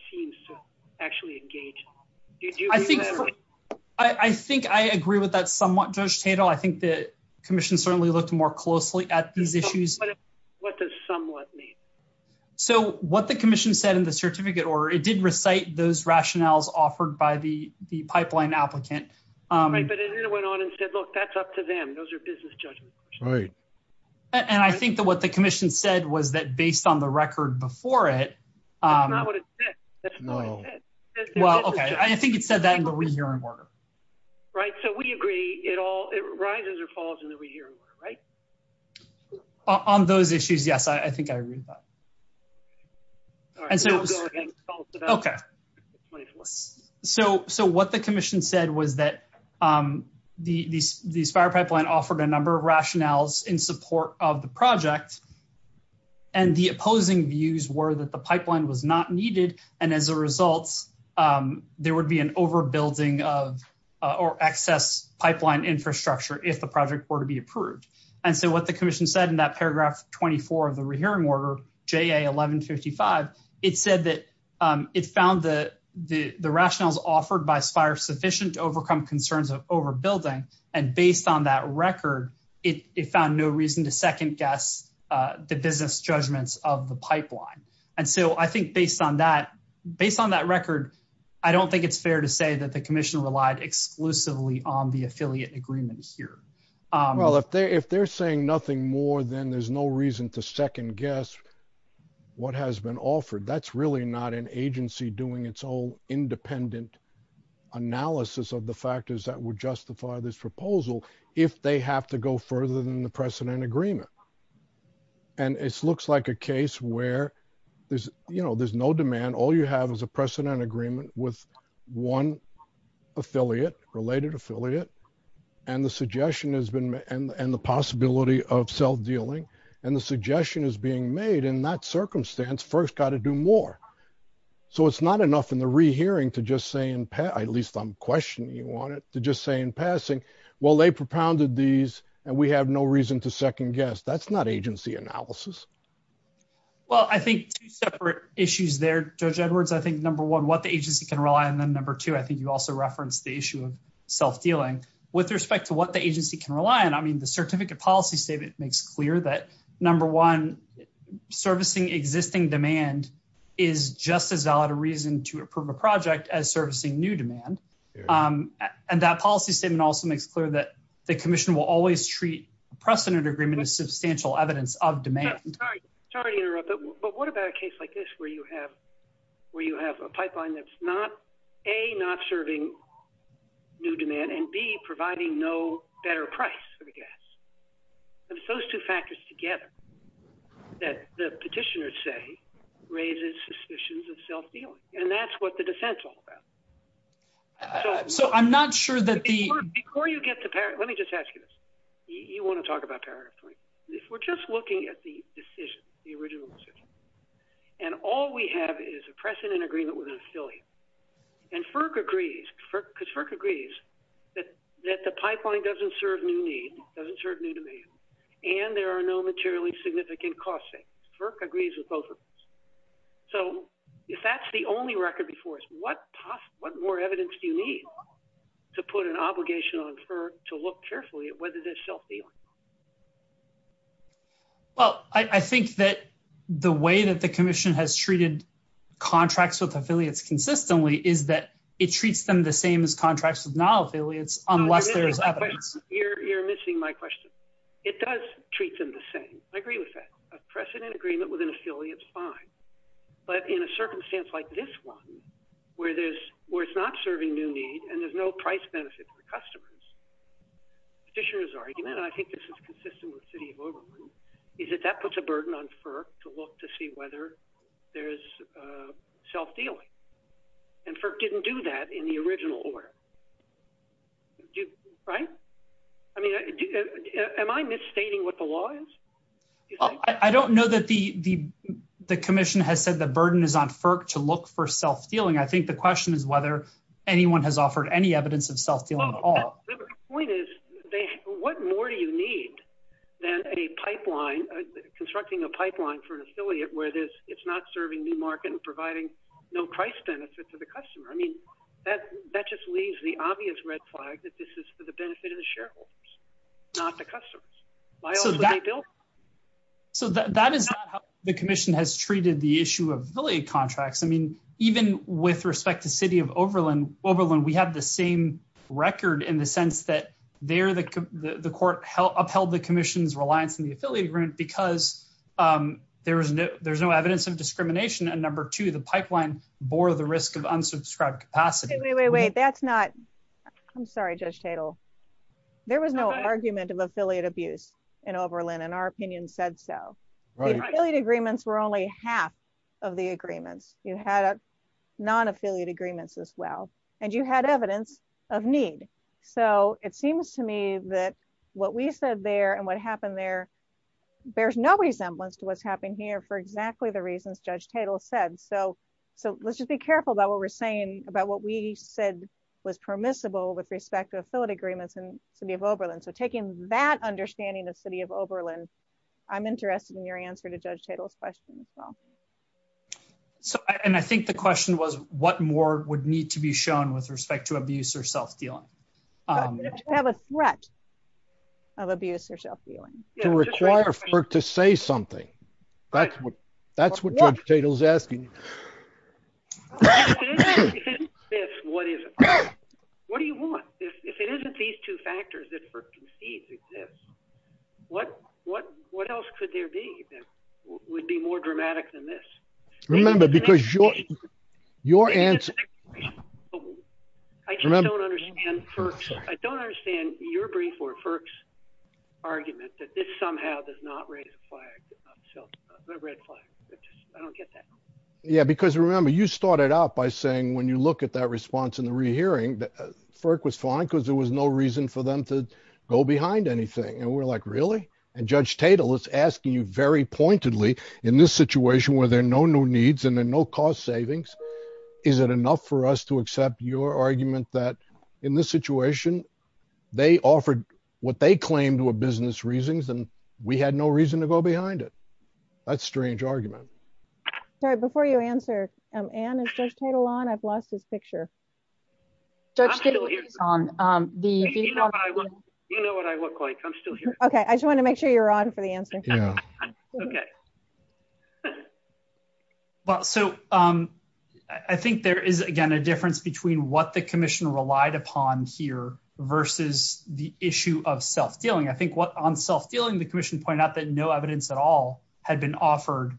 Actually engaged. I think. I think I agree with that somewhat. I think that. Commission certainly looked more closely at these issues. What does somewhat. So what the commission said in the certificate, or it did recite those rationales offered by the, the pipeline applicants. I went on and said, look, that's up to them. Those are business judges. And I think that what the commission said was that based on the record before it. That's not what it said. Well, okay. I think it said that in the re-hearing order. Right. So we agree at all. It rises or falls in the re-hearing order, right? On those issues. Yes. I think I agree with that. Okay. So, so what the commission said was that. In the re-hearing order. The, the spiral pipeline offered a number of rationales in support of the project. And the opposing views were that the pipeline was not needed. And as a result. There would be an overbuilding of. Or access pipeline infrastructure. If the project were to be approved. And so what the commission said in that paragraph 24 of the re-hearing order. The commission said that in the re-hearing order. JA 1155. It said that it found the, the rationales offered by spire sufficient to overcome concerns of overbuilding. And based on that record. It found no reason to second guess. The business judgments of the pipeline. And so I think based on that. Based on that record. I don't think it's fair to say that the commission relied exclusively on the affiliate agreements here. Well, if they're, if they're saying nothing more than, there's no reason to second guess. What has been offered. That's really not an agency doing its own. Independent. Analysis of the factors that would justify this proposal. If they have to go further than the precedent agreement. And it's looks like a case where there's, you know, there's no demand. And all you have is a precedent agreement with one. Affiliate related affiliate. And the suggestion has been, and the possibility of self-dealing. And the suggestion is being made in that circumstance first got to do more. So it's not enough in the re-hearing to just say in pet, at least I'm questioning. You want it to just say in passing. Well, they propounded these and we have no reason to second guess. That's not agency analysis. I'm not sure. I'm not sure what the agency can rely on. I'm not sure what the agency can rely on. I think number one, what the agency can rely on them. Number two, I think you also referenced the issue. Self-healing with respect to what the agency can rely on. I mean, the certificate policy statement makes clear that. Number one. Servicing existing demand. Is just as out of reason to approve a project as servicing new demand. And that policy statement also makes clear that the commission will always treat precedent agreement. Substantial evidence of demand. Sorry to interrupt. But what about a case like this where you have, where you have a pipeline? That's not a, not serving. New demand and B providing no better price for the gas. And it's those two factors together. The petitioners say. Raises suspicions of self-dealing and that's what the defense. I'm not sure that. Let me just ask you this. You want to talk about. We're just looking at the decision. And all we have is a precedent agreement with an affiliate. And FERC agrees. Because FERC agrees. That the pipeline doesn't serve me. Doesn't serve me to me. And there are no materially significant costs. FERC agrees with both of us. So if that's the only record before us, What more evidence do you need? To put an obligation on FERC to look carefully at whether there's self-dealing. Well, I think that the way that the commission has treated. Contracts with affiliates consistently is that it treats them the same as contracts with non-affiliates. You're missing my question. It does treat them the same. I agree with that. A precedent agreement with an affiliate is fine. But in a circumstance like this one, where there's, where it's not serving new need and there's no price benefit for customers. I think this is consistent with city. Is it that puts a burden on FERC to look, to see whether. There's a self-deal. And FERC didn't do that in the original order. Right. I mean, am I misstating what the law is? I don't know that the, the, the commission has said the burden is on FERC to look for self-dealing. I think the question is whether anyone has offered any evidence of self-dealing at all. What more do you need? Then a pipeline. Constructing a pipeline for an affiliate where it is. It's not serving new market and providing no price benefit to the customer. I mean, That that just leaves the obvious red flag that this is for the benefit of the shareholders. Not the customers. So that is. The commission has treated the issue of really contracts. I mean, even with respect to city of Oberlin, over when we have the same record in the sense that they're the, the court help upheld the commission's reliance on the affiliate group, because there was no, there's no evidence of discrimination. And number two, the pipeline bore the risk of unsubscribed. Wait, wait, wait, that's not. I'm sorry, just title. I'm sorry. I'm sorry. There was no argument of affiliate abuse in Oberlin and our opinion said, so. Agreements were only half. Of the agreements you had. Non-affiliate agreements as well. And you had evidence. Of need. So it seems to me that what we said there and what happened there. There's no resemblance to what's happening here for exactly the reasons. Judge Tatel said. So, so let's just be careful about what we're saying. About what we said was permissible with respect to affiliate agreements and city of Oberlin. So taking that understanding, the city of Oberlin. I'm interested in your answer to judge title questions. So, and I think the question was what more would need to be shown with respect to abuse or self-feeling. I have a threat. Of abuse or self-feeling. To say something. That's what. That's what. What do you want? If it isn't these two factors. What, what, what else could there be? Would be more dramatic than this. Your answer. I don't understand. I don't understand your brief or. Argument that this somehow does not. I don't get that. Yeah, because remember you started out by saying, when you look at that response in the rehearing. For it was fine because there was no reason for them to go behind anything. And we're like, really? And judge title is asking you very pointedly in this situation where they're no, no needs and then no cost savings. Is it enough for us to accept your argument that in this situation? They offered what they claim to a business reasons and we had no reason to go behind it. That's strange argument. Sorry, before you answer. Title on I've lost this picture. On the. Okay. I just want to make sure you're on for the answer. Okay. Okay. Well, so I think there is, again, a difference between what the commission relied upon here. Versus the issue of self-feeling. I think what I'm self-feeling, the commission pointed out that no evidence at all. Had been offered.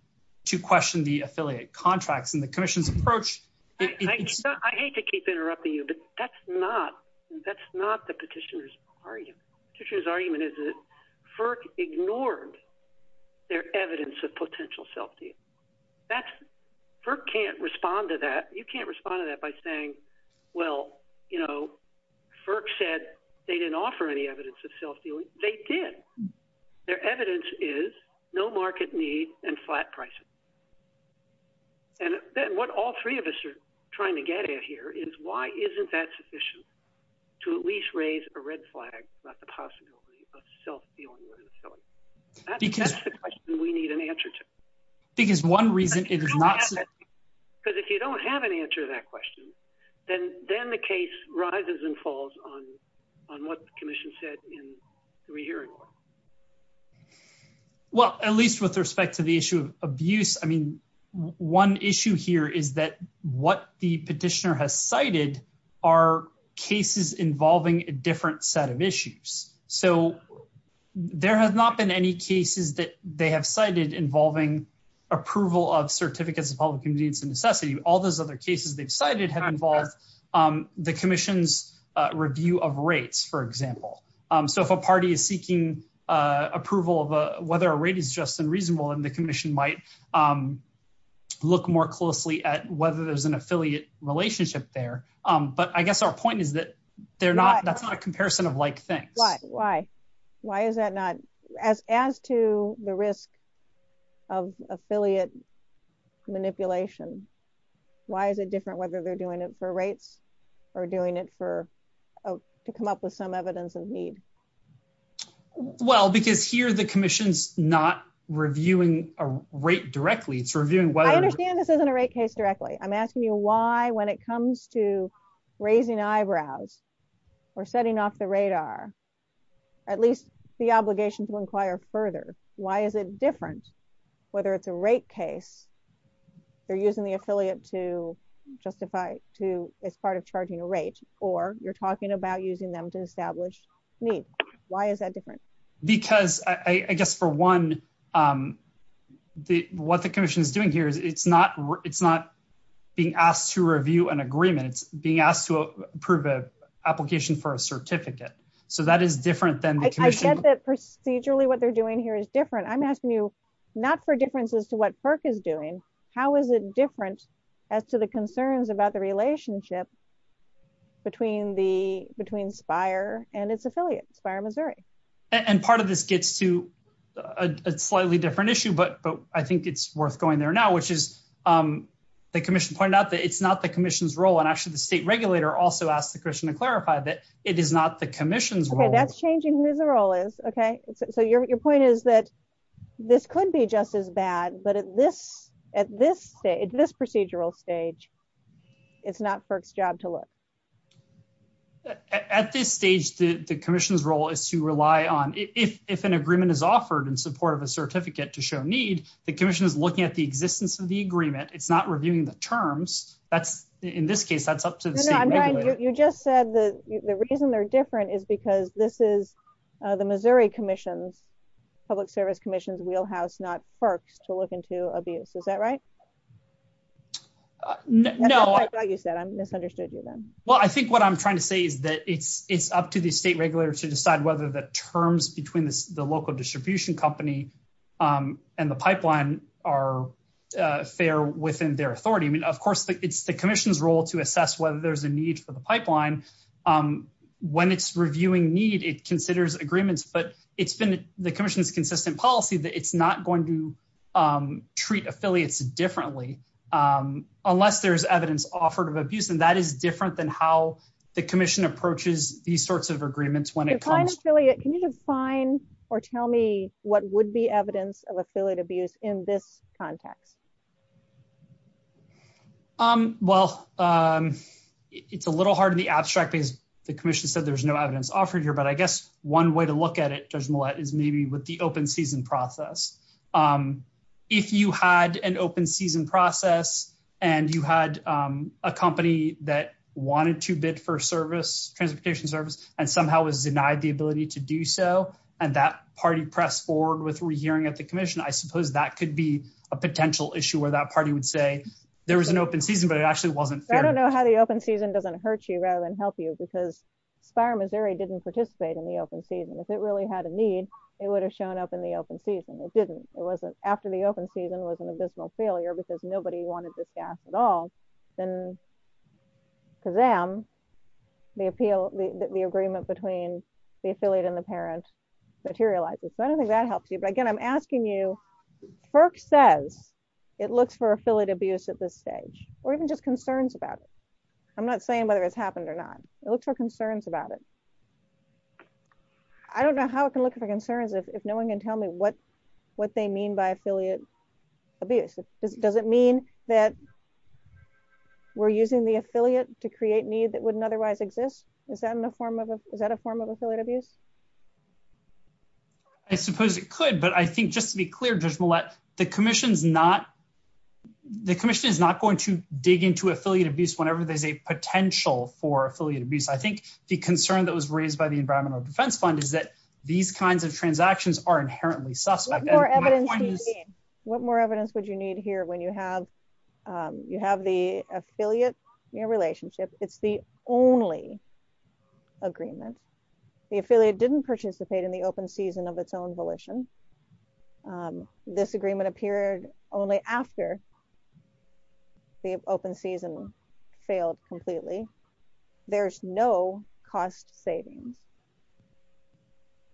To question the affiliate contracts and the commission's approach. I hate to keep interrupting you, but that's not, that's not the petitioners. That's not the commission's argument. The argument is that FERC ignored. Their evidence of potential self-deal. That's. Can't respond to that. You can't respond to that by saying. Well, you know, FERC said they didn't offer any evidence of self-dealing. They did. Their evidence is no market need and flat pricing. And that's what the commission is trying to get at here. And what all three of us are trying to get at here is why isn't that sufficient? To at least raise a red flag. Not the possibility. That's the question we need an answer to. Because one reason. Because if you don't have an answer to that question. And then the case rises and falls on. On what the commission said. I don't know. I don't know the answer to that question. Well, at least with respect to the issue of abuse. I mean, one issue here is that what the petitioner has cited. Are cases involving a different set of issues. So. There has not been any cases that they have cited involving. Approval of certificates. So that's one issue. And then the other issue is that. All those other cases they've cited have involved. The commission's review of rates, for example. So if a party is seeking. Approval of whether a rate is just unreasonable and the commission might. Look more closely at whether there's an affiliate relationship there. But I guess our point is that. They're not. That's not a comparison of like things. Why, why. Why is that? Why is that not. As to the risk. Of affiliate. Manipulation. Why is it different? Whether they're doing it for rates. Or doing it for. To come up with some evidence of need. Well, because here's the commission's not reviewing a rate directly to review. A rate case. I understand this isn't a rate case directly. I'm asking you why, when it comes to raising eyebrows. We're setting off the radar. At least the obligation to inquire further. Why is it different? Whether it's a rate case. They're using the affiliate to justify. It's part of charging a rate or you're talking about using them to establish. Why is that different? Why is it different? Because I guess for one. The what the commission is doing here is it's not, it's not. Being asked to review an agreement, being asked to approve a application for a certificate. So that is different than. Procedurally what they're doing here is different. I'm asking you. Not for differences to what FERC is doing. How is it different? I'm asking you. As to the concerns about the relationship. Between the, between spire and it's affiliate fire, Missouri. And part of this gets to. It's slightly different issue, but I think it's worth going there now, which is. The commission pointed out that it's not the commission's role. And actually the state regulator also asked the Christian to clarify that it is not the commission's role. That's changing. Okay. So the commission is the role is okay. So your, your point is that. This could be just as bad, but at this. At this. It's this procedural stage. It's not FERC's job to look. At this stage, the commission's role is to rely on if an agreement is offered in the state regulatory. To show that it's, it's in support of a certificate to show a need. The commission is looking at the distance of the agreement. It's not reviewing the terms. That's in this case. You just said. Isn't there a different is because this is the Missouri commission. Public service commissions, we'll have not. FERC to look into a B. Is that right? No. I'm misunderstood. I'm trying to figure that out. Well, I think what I'm trying to say is that it's it's up to the state regulator to decide whether the terms between the local distribution company. And the pipeline are. They're within their authority. I mean, of course. It's the commission's role to assess whether there's a need for the pipeline. When it's reviewing need, it considers agreements, but it's been. The commission is consistent policy that it's not going to. It's not going to. Treat affiliates differently. Unless there's evidence offered of abuse and that is different than how the commission approaches these sorts of agreements when it comes. Can you define or tell me what would be evidence of affiliate abuse in this. Contact. Okay. Well, It's a little hard to be abstracted. The commission said there was no evidence offered here, but I guess one way to look at it. Is maybe with the open season process. If you had an open season process. And you had a company that wanted to bid for service, transportation service and somehow was denied the ability to do so. And that party pressed forward with rehearing at the commission. I suppose that could be a potential issue where that party would say there was an open season, but it actually wasn't. I don't know how the open season doesn't hurt you rather than help you because. Fire Missouri didn't participate in the open season. If it really had a need, it would have shown up in the open season. It didn't. If it really had a need, it would have shown up in the open season. And if it really wasn't, if it wasn't after the open season was an additional failure, because nobody wanted this gas at all. Then. To them. The appeal, the agreement between the affiliate and the parents materializes. I don't think that helps you. But again, I'm asking you. Burke says. It looks for affiliate abuse at this stage or even just concerns about. I'm not saying what it has happened or not. It looks for concerns about it. I don't know how it can look for concerns. If no one can tell me what. What they mean by affiliate. Does it mean that. We're using the affiliate to create needs that wouldn't otherwise exist. Is that in the form of a, is that a form of affiliate abuse? I suppose it could, but I think just to be clear, just. The commission's not. The commission is not going to dig into affiliate abuse whenever there's a potential for affiliate abuse. I think the concern that was raised by the environmental defense fund is that these kinds of transactions are inherently. What more evidence would you need here? When you have. You have the affiliate. Your relationship. It's the only. Agreement. The affiliate didn't participate in the open season of its own volition. The affiliate didn't participate in the open season of its own volition. This agreement appeared only after. The open season. Failed completely. There's no cost saving.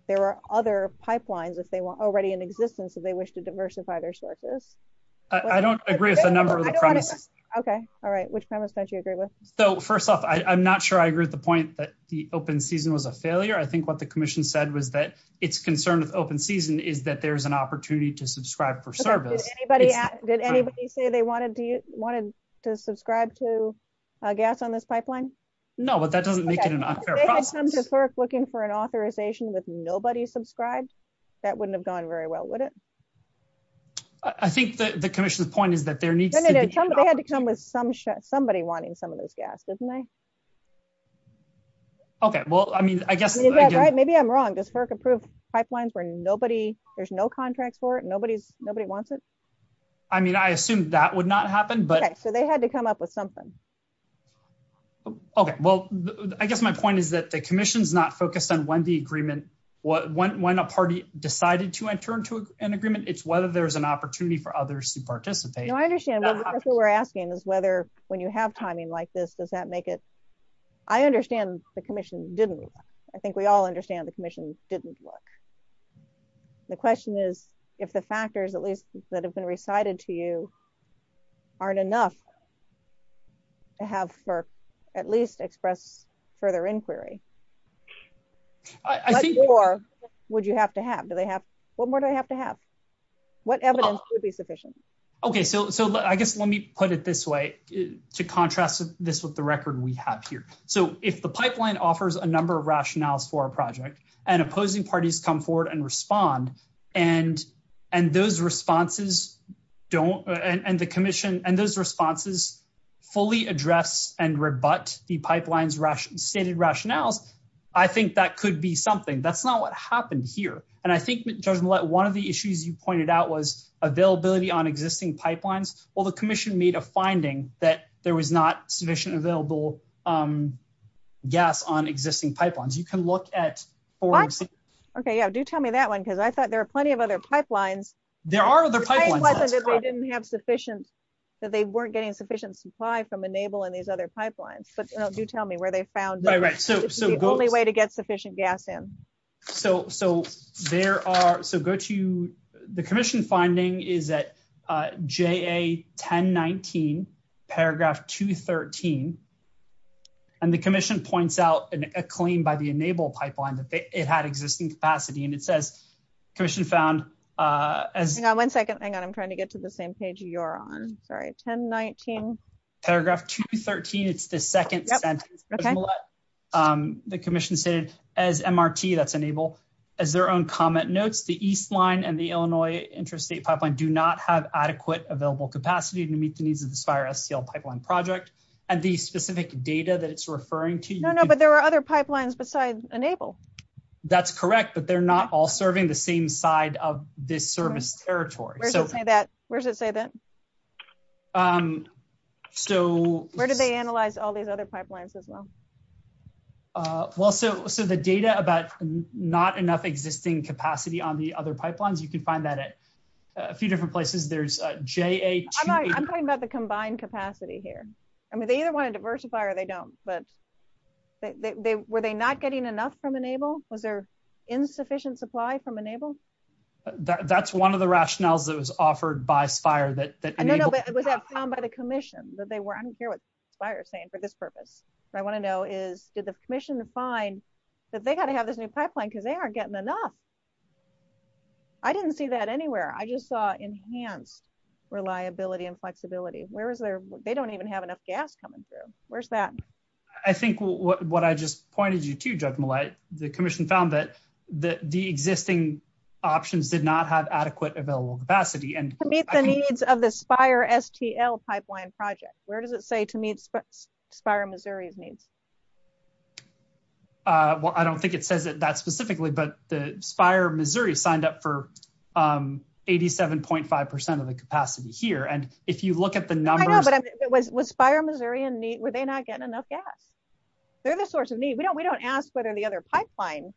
There are other pipelines that they want already in existence as they wish to diversify their sources. I don't agree with the number. Okay. All right. Which kind of sent you a great list. Okay. So first off, I'm not sure I agree with the point that the open season was a failure. I think what the commission said was that it's concerned with open season is that there's an opportunity to subscribe for service. Did anybody say they wanted to, wanted to subscribe to. I guess on this pipeline. No, but that doesn't make it. Looking for an authorization with nobody subscribed. Okay. I guess that would have gone very well with it. That wouldn't have gone very well with it. I think that the commission's point is that there needs to be. Somebody wanting some of this gas, isn't it? Okay. Well, I mean, I guess. Maybe I'm wrong. Just Kirk approved pipelines where nobody there's no contract for it. Nobody's nobody wants it. I mean, I assumed that would not happen, but. They had to come up with something. Okay. Well, I guess my point is that the commission's not focused on when the agreement. What, when, when a party decided to enter into an agreement, it's whether there's an opportunity for others to participate. I understand. That's what we're asking is whether when you have timing like this, does that make it. I understand the commission didn't. I think we all understand the commission didn't work. The question is. If the factors at least that have been recited to you. Aren't enough. I have for at least express further inquiry. Would you have to have, do they have? What more do I have to have? Whatever. Okay. So, so I guess let me put it this way. To contrast this with the record we have here. So if the pipeline offers a number of rationales for our project and opposing parties come forward and respond. And, and those responses. Don't and the commission and those responses. Fully address and rebut the pipelines. Stated rationale. I think that could be something that's not what happened here. And I think that one of the issues you pointed out was availability on existing pipelines. Well, the commission made a finding that there was not sufficient available. Gas on existing pipelines. You can look at. Okay. Yeah. Do tell me that one. Cause I thought there are plenty of other pipelines. There are other. They didn't have sufficient. They weren't getting sufficient supply from enable and these other pipelines, but you don't do tell me where they found. The only way to get sufficient gas in. So, so there are, so good to you. Okay. The commission finding is that J a 10, 19 paragraph two 13. And the commission points out a claim by the enable pipeline. It had existing capacity and it says. Christian found. One second. Hang on. I'm trying to get to the same page. You're on. Sorry. 10, 19. Okay. Paragraph two 13. It's the second. Okay. The commission says as MRT that's enable. As their own comment notes, the East line and the Illinois. Interstate pipeline do not have adequate available capacity to meet the needs of this virus. Pipeline project. And the specific data that it's referring to. No, no, but there are other pipelines besides enable. That's correct, but they're not all serving the same side of this service territory. Where's it say that. So where did they analyze all these other pipelines as well? Well, so, so the data about. Not enough existing capacity on the other pipelines. You can find that. A few different places. There's a J. I'm talking about the combined capacity here. I mean, they either want to diversify or they don't, but. I don't know. They were, they, they were they not getting enough from enable was there insufficient supply from enable? That's one of the rationales that was offered by fire that. By the commission that they were. I don't care what. Fire saying for this purpose. I want to know is, is the commission to find. That they got to have this new pipeline because they are getting enough. I didn't see that anywhere. I just saw enhanced. Reliability and flexibility. And I don't know if that's what they're looking for. I don't know what they're looking for. They don't have enough capacity. Where's there. They don't even have enough gas coming through. Where's that. I think what I just pointed you to judge. The commission found that. The existing. Options did not have adequate available capacity and. The needs of the spire STL pipeline project. Fire Missouri. Well, I don't think it says that that's specifically, but. I don't think it says that. I don't think it says that the spire of Missouri signed up for. 87.5% of the capacity here. And if you look at the numbers. What's fire Missouri and neat. Were they not getting enough gas? They're the source of need. We don't, we don't ask whether the other pipeline.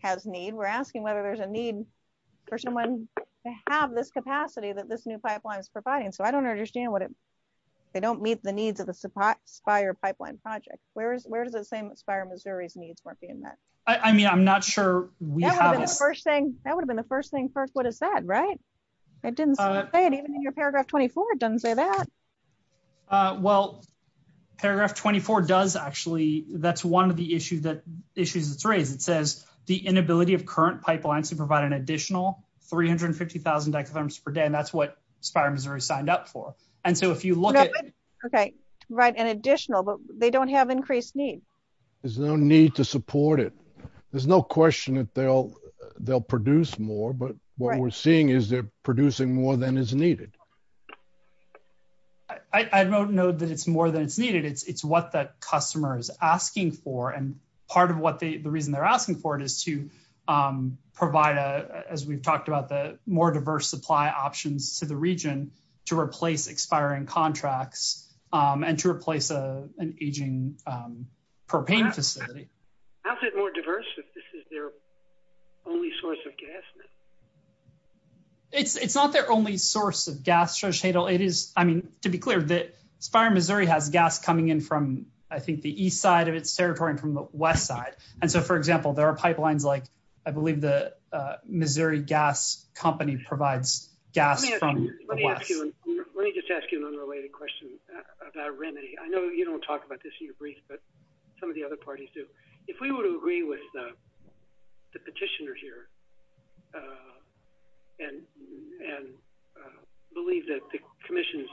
Has need. We're asking whether there's a need. Person one. I have this capacity that this new pipeline is providing. So I don't understand what it. I don't know. I don't know. They don't meet the needs of the supply. Fire pipeline project. Where's where's the same. Fire Missouri. I mean, I'm not sure. First thing. That would have been the first thing first. What is that? Right. I didn't. Even in your paragraph 24. It doesn't say that. Well, Paragraph 24 does actually. That's one of the issues that issues. I don't know. I don't know. It says the inability of current pipelines to provide an additional. 350,000. And that's what. Signed up for. And so if you look at. Okay. Right. And additional, but they don't have increased needs. There's no need to support it. There's no question that they'll. They'll produce more, but what we're seeing is they're producing more than is needed. I don't know that it's more than it's needed. It's, it's what the customer is asking for. And part of what they, the reason they're asking for it is to provide a, as we've talked about the more diverse supply options to the region. To replace expiring contracts. And to replace a, an aging. Propane facility. That's it more diverse. This is their only source of gas. I'm sorry. It's not their only source of gas. It is. I mean, to be clear that fire Missouri has gas coming in from, I think the east side of its territory from the west side. And so, for example, there are pipelines like. I believe the Missouri gas company provides. Yeah. Let me just ask you an unrelated question. I know you don't talk about this. Some of the other parties do. Yeah. If we were to agree with. The petitioner here. And. Believe that the commission.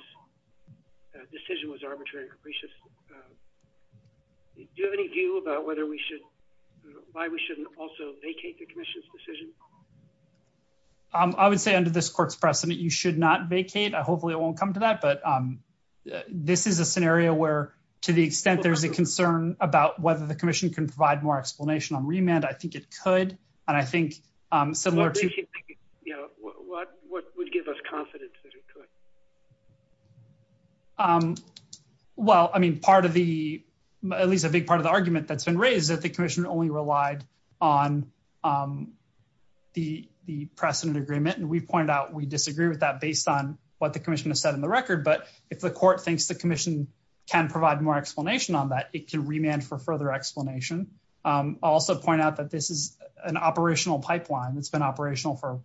Decision was arbitrary. Do you have any view about whether we should. Why we shouldn't also vacate the commission's decision. I would say under this court's precedent, you should not vacate. The commission's decision. I don't know if that's the case. I hope it won't come to that, but. This is a scenario where, to the extent there's a concern about whether the commission can provide more explanation on remand. I think it could. And I think. What would give us confidence? Well, I mean, part of the. At least a big part of the argument that's been raised that the commission only relied. On. On the, the precedent agreement. And we pointed out, we disagree with that based on what the commission has said in the record, but if the court thinks the commission. Can provide more explanation on that. It can remand for further explanation. Also point out that this is an operational pipeline. It's been operational for.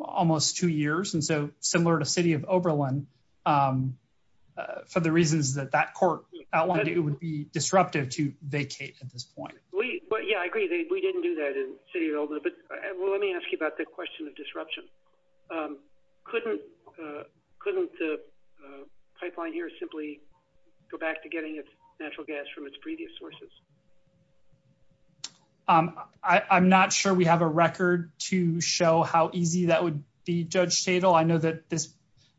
Almost two years. And so similar to city of Oberlin. It's been operational for almost two years. And so similar to city of Oberlin. For the reasons that that court. It would be disruptive to vacate. At this point. Yeah, I agree. We didn't do that. Well, let me ask you about the question of disruption. Couldn't. Couldn't the pipeline here simply. Go back to getting natural gas from its previous sources. I'm not sure we have a record to show how easy that would be judged fatal. I know that.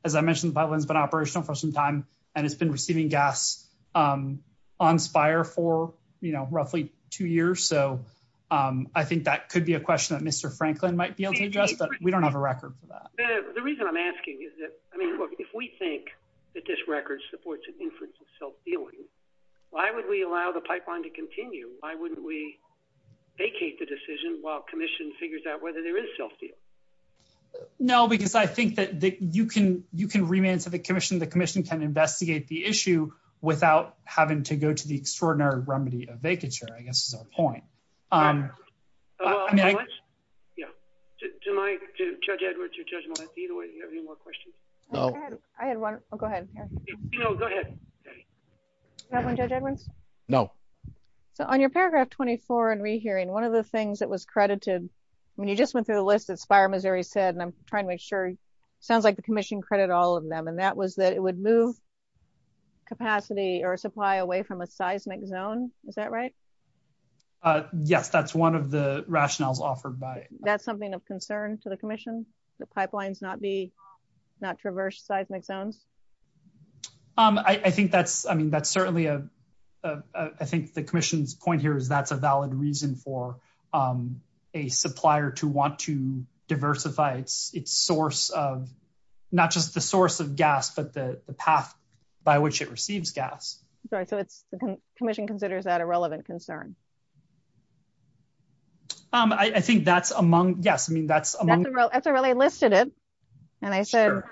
As I mentioned, but when it's been operational for some time. And it's been receiving gas. On spire for. You know, roughly two years. So. I think that could be a question that Mr. Franklin might be. We don't have a record. The reason I'm asking is that. I mean, look, if we think. That this record supports. I don't know. If we don't have a record. Why would we allow the pipeline to continue? Why wouldn't we. Vacate the decision while commission figures out whether there is. No, because I think that you can, you can. You can remand to the commission. The commission can investigate the issue without having to go to the extraordinary remedy of vacature. I guess. I think that's a good point. Yeah. Do you have any more questions? I have one. Go ahead. No. No. On your paragraph 24 and rehearing one of the things that was credited. When you just went through the list of fire, Missouri said, and I'm trying to make sure. Sounds like the commission credit all of them. And that was that it would move. The pipeline. Capacity or supply away from a seismic zone. Is that right? Yes. That's one of the rationales offered by that's something of concern to the commission. The pipelines not be. Not traverse seismic zone. I think that's, I mean, that's certainly a. I think the commission's point here is that's a valid reason for a pipeline. I think that's a valid reason for a pipeline supplier to want to diversify. It's source of. Not just the source of gas, but the path. By which it receives gas. Sorry. Commission considers that a relevant concern. I think that's among guests. I mean, that's. That's a really lifted it. And I said.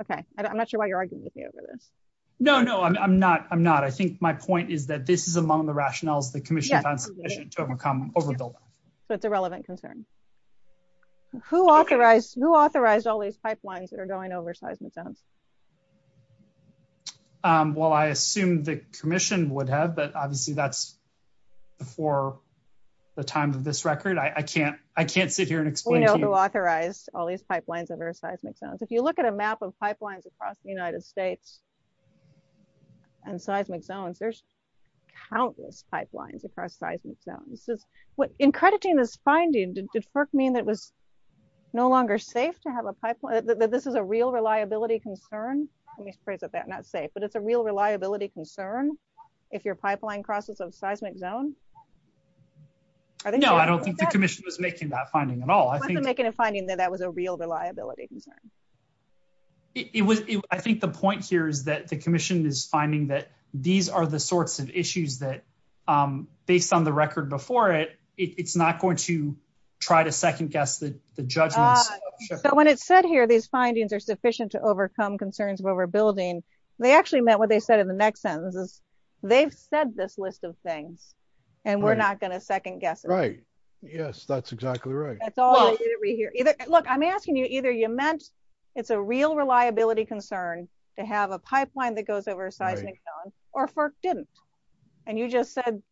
Okay. I'm not sure why you're arguing with me over this. No, no, I'm not. I'm not. I'm not. I'm not arguing with you. I think my point is that this is among the rationales. The commission. So it's a relevant concern. Who authorized, who authorized all these pipelines that are going over seismic zone. Well, I assume the commission would have, but obviously that's. Before. The times of this record. I can't. I can't sit here and explain. Authorized all these pipelines. That are going over seismic zones. If you look at a map of pipelines across the United States. And seismic zones. Countless pipelines. What in crediting this finding. No longer safe to have a pipeline. This is a real reliability concern. But it's a real reliability concern. If your pipeline crosses a seismic zone. I don't know. I don't think the commission was making that finding at all. Making a finding that that was a real reliability concern. I think the point here is that the commission is finding that these are the sorts of issues that. Based on the record before it. It's not going to try to second guess. The judgment. When it said here, These findings are sufficient to overcome concerns where we're building. They actually meant what they said in the next sentence. They've said this list of things. And we're not going to second guess. Right. Yes, that's exactly right. Look, I'm asking you either. You meant. It's a real reliability concern. To have a pipeline that goes over a seismic zone. And you just said. I don't know.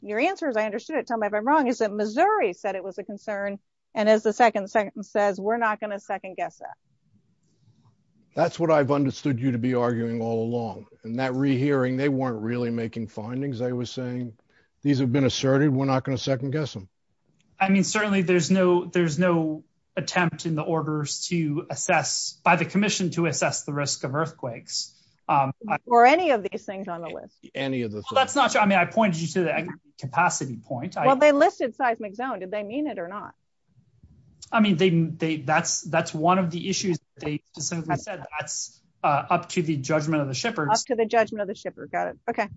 Your answer is I understood it. Missouri said it was a concern. And as the second second says, we're not going to second guess that. That's what I've understood you to be arguing all along and that rehearing, they weren't really making findings. I was saying these have been asserted. We're not going to second guess them. I mean, certainly there's no, there's no attempt in the orders to assess by the commission to assess the risk of earthquakes. Or any of these things on the list. Any of this. I mean, I pointed you to that. Capacity point. Well, they listed seismic zone. Did they mean it or not? I mean, they, they, that's, that's one of the issues. Up to the judgment of the shippers. To the judgment of the shippers. Got it. Okay.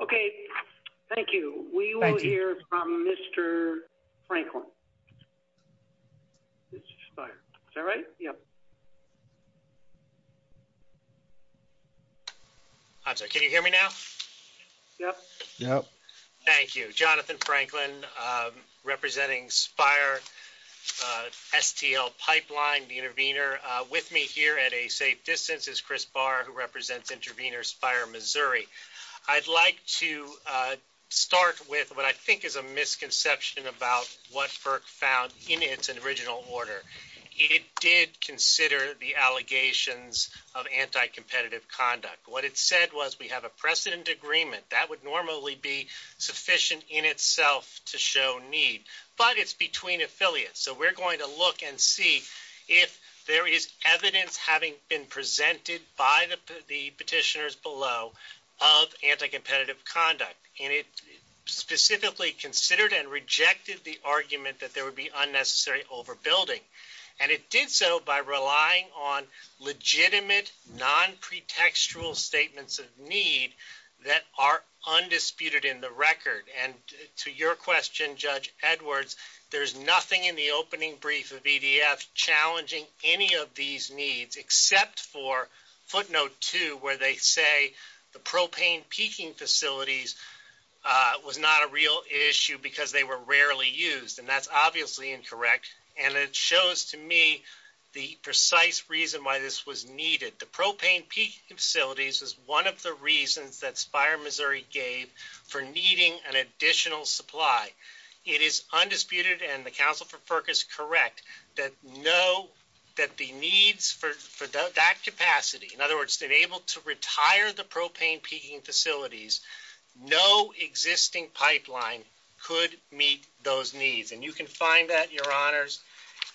Okay. Thank you. We will hear from Mr. Franklin. Is that right? Yep. Can you hear me now? Yep. Yep. Thank you, Jonathan Franklin. Representing Spire. STL pipeline. The intervener with me here at a safe distance is Chris bar who represents intervener Spire, Missouri. I'd like to start with what I think is a misconception about what FERC found in its original order. It did consider the allegations of anti-competitive conduct. What it said was we have a precedent agreement that would normally be sufficient in itself to show need, but it's between affiliates. So we're going to look and see if there is evidence having been presented by the petitioners below of anti-competitive conduct. And it specifically considered and rejected the argument that there would be unnecessary overbuilding. And it did so by relying on legitimate non pretextual statements of need that are undisputed in the record. And to your question, judge Edwards, there's nothing in the opening brief of EDF challenging any of these needs except for footnote two where they say the propane peaking facilities was not a real issue because they were rarely used. And that's obviously incorrect. And it shows to me the precise reason why this was needed. The propane peaking facilities is one of the reasons that Spire, Missouri gave for needing an additional supply. It is undisputed, and the counsel for FERC is correct, that the needs for that capacity, in other words, to be able to retire the propane peaking facilities, no existing pipeline could meet those needs. And you can find that, your honors,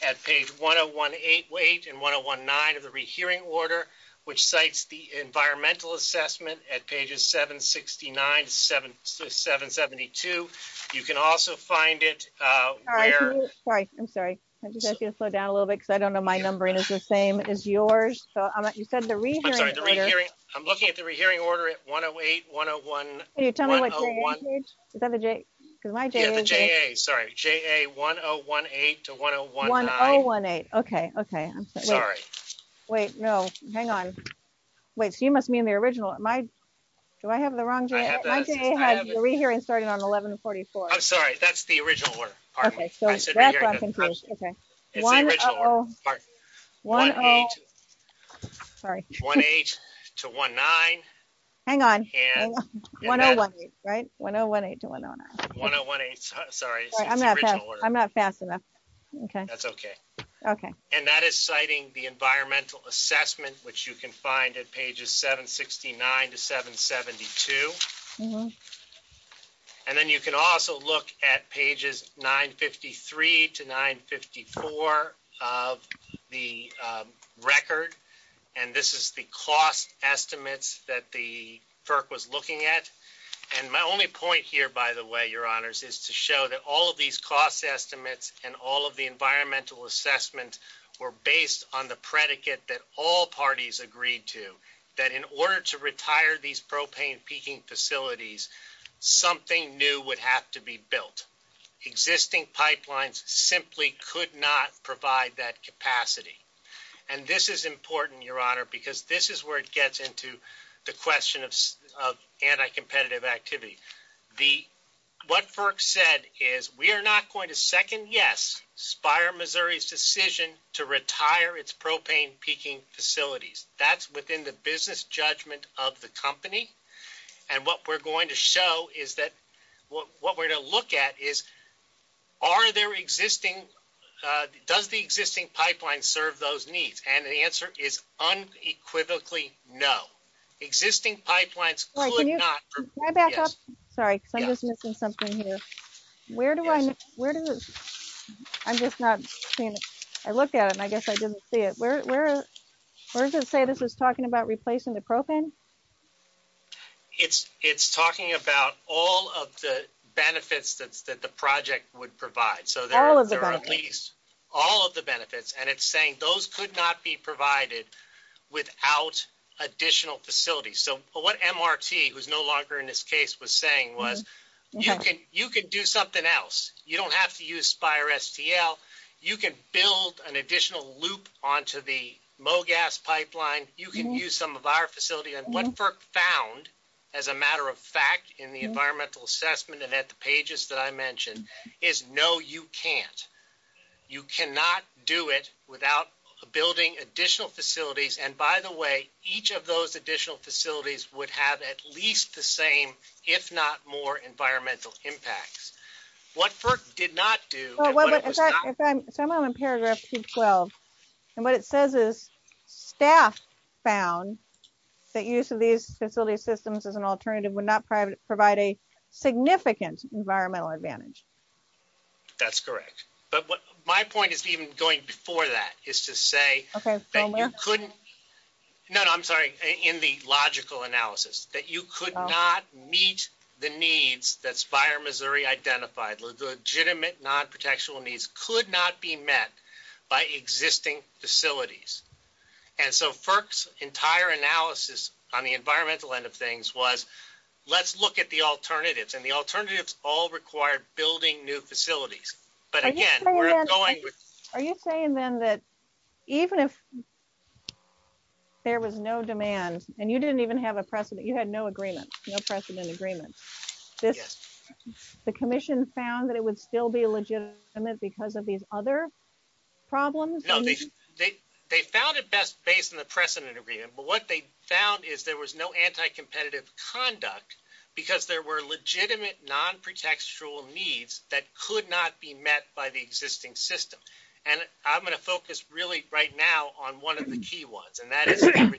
at page 1018 and 1019 of the rehearing order, which cites the environmental assessment at pages 769 to 772. You can also find it. Sorry, I'm sorry. I'm just going to slow down a little bit, because I don't know my numbering is the same as yours. You said the reason. I'm looking at the rehearing order at 108, 101. Can you tell me what the J is? Sorry, JA1018 to 1019. 1018, okay, okay. I'm sorry. Wait, no, hang on. Wait, so you must mean the original. Do I have the wrong JA? My JA has the rehearing started on 1144. I'm sorry. That's the original order. Okay, so that's what I'm confused. It's the original order. Sorry. Sorry. 1018 to 1019. Hang on. 1018, right? 1018 to 1019. 1018, sorry. I'm not fast enough. That's okay. Okay. And that is citing the environmental assessment, which you can find at pages 769 to 772. And then you can also look at pages 953 to 954 of the record. And this is the cost estimates that the FERC was looking at. And my only point here, by the way, Your Honors, is to show that all of these cost estimates and all of the environmental assessments were based on the predicate that all parties agreed to, that in order to retire these propane peaking facilities, something new would have to be built. Existing pipelines simply could not provide that capacity. And this is important, Your Honor, because this is where it gets into the question of anti-competitive activity. What FERC said is, we are not going to second yes Spire, Missouri's decision, to retire its propane peaking facilities. That's within the business judgment of the company. And what we're going to show is that what we're going to look at is, are there existing, does the existing pipeline serve those needs? And the answer is unequivocally no. Existing pipelines could not. Can I back up? Sorry, I'm just missing something here. Where do I, where do I, I'm just not seeing it. I looked at it and I guess I didn't see it. Where does it say this is talking about replacing the propane? It's talking about all of the benefits that the project would provide. All of the benefits. All of the benefits. And it's saying those could not be provided without additional facilities. So what MRT, who's no longer in this case, was saying was, you can do something else. You don't have to use Spire STL. You can build an additional loop onto the MOGAS pipeline. You can use some of our facility. And what FERC found, as a matter of fact, in the environmental assessment and at the pages that I mentioned, is no, you can't. You cannot do it without building additional facilities. And by the way, each of those additional facilities would have at least the same, if not more environmental impact. What FERC did not do. So I'm on paragraph 212. And what it says is staff found that use of these facility systems as an alternative would not provide a significant environmental advantage. That's correct. But my point is even going before that is to say that you couldn't. No, no, I'm sorry. In the logical analysis that you could not meet the needs that's fire Missouri identified legitimate non-protectional needs could not be met by existing facilities. And so first entire analysis on the environmental end of things was let's look at the alternatives and the alternatives all required building new facilities. But again, are you saying then that even if there was no demand and you didn't even have a precedent, you had no agreement, no precedent agreement, the commission found that it would still be a legitimate because of these other problems. They found it best based on the precedent agreement, but what they found is there was no anti-competitive conduct because there were legitimate non-protectional needs that could not be met by the existing system. And I'm going to focus really right now on one of the key ones, and that is the retirement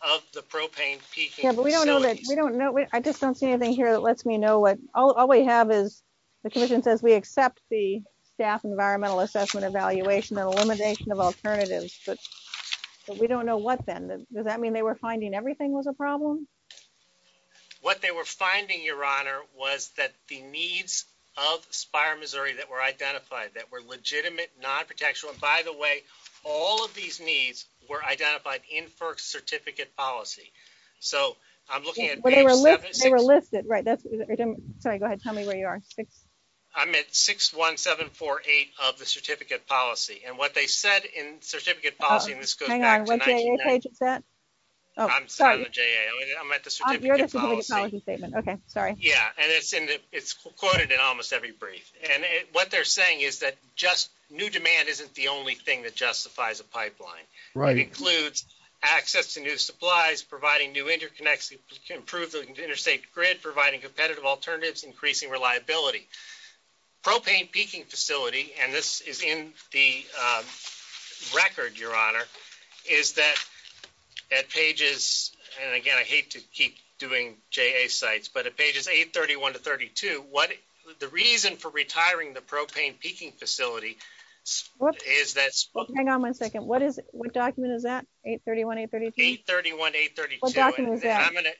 of the propane. We don't know that we don't know. I just don't see anything here that lets me know what all we have is the commission says we accept the staff environmental assessment, evaluation and elimination of alternatives. We don't know what then does that mean they were finding everything was a problem. What they were finding your honor was that the needs of Spire, Missouri that were identified that were legitimate, non-protectional, by the way, all of these needs were identified in first certificate policy. So I'm looking at, they were listed, right? That's right. Go ahead. Tell me where you are. I'm at six, one, seven, four, eight of the certificate policy. And what they said in certificate policy, I'm sorry. Okay. Sorry. Yeah. And it's, and it's quoted in almost every brief. And what they're saying is that just new demand, isn't the only thing that justifies a pipeline, right? Includes access to new supplies, providing new interconnections, improving the interstate grid, providing competitive alternatives, increasing reliability, propane peaking facility. And this is in the record. Your honor is that that page is, and again, I hate to keep doing J a sites, but a page is eight 31 to 32. What the reason for retiring the propane peaking facility is that. Hang on one second. What is it? What document is that? Eight 31, eight 31, eight 32.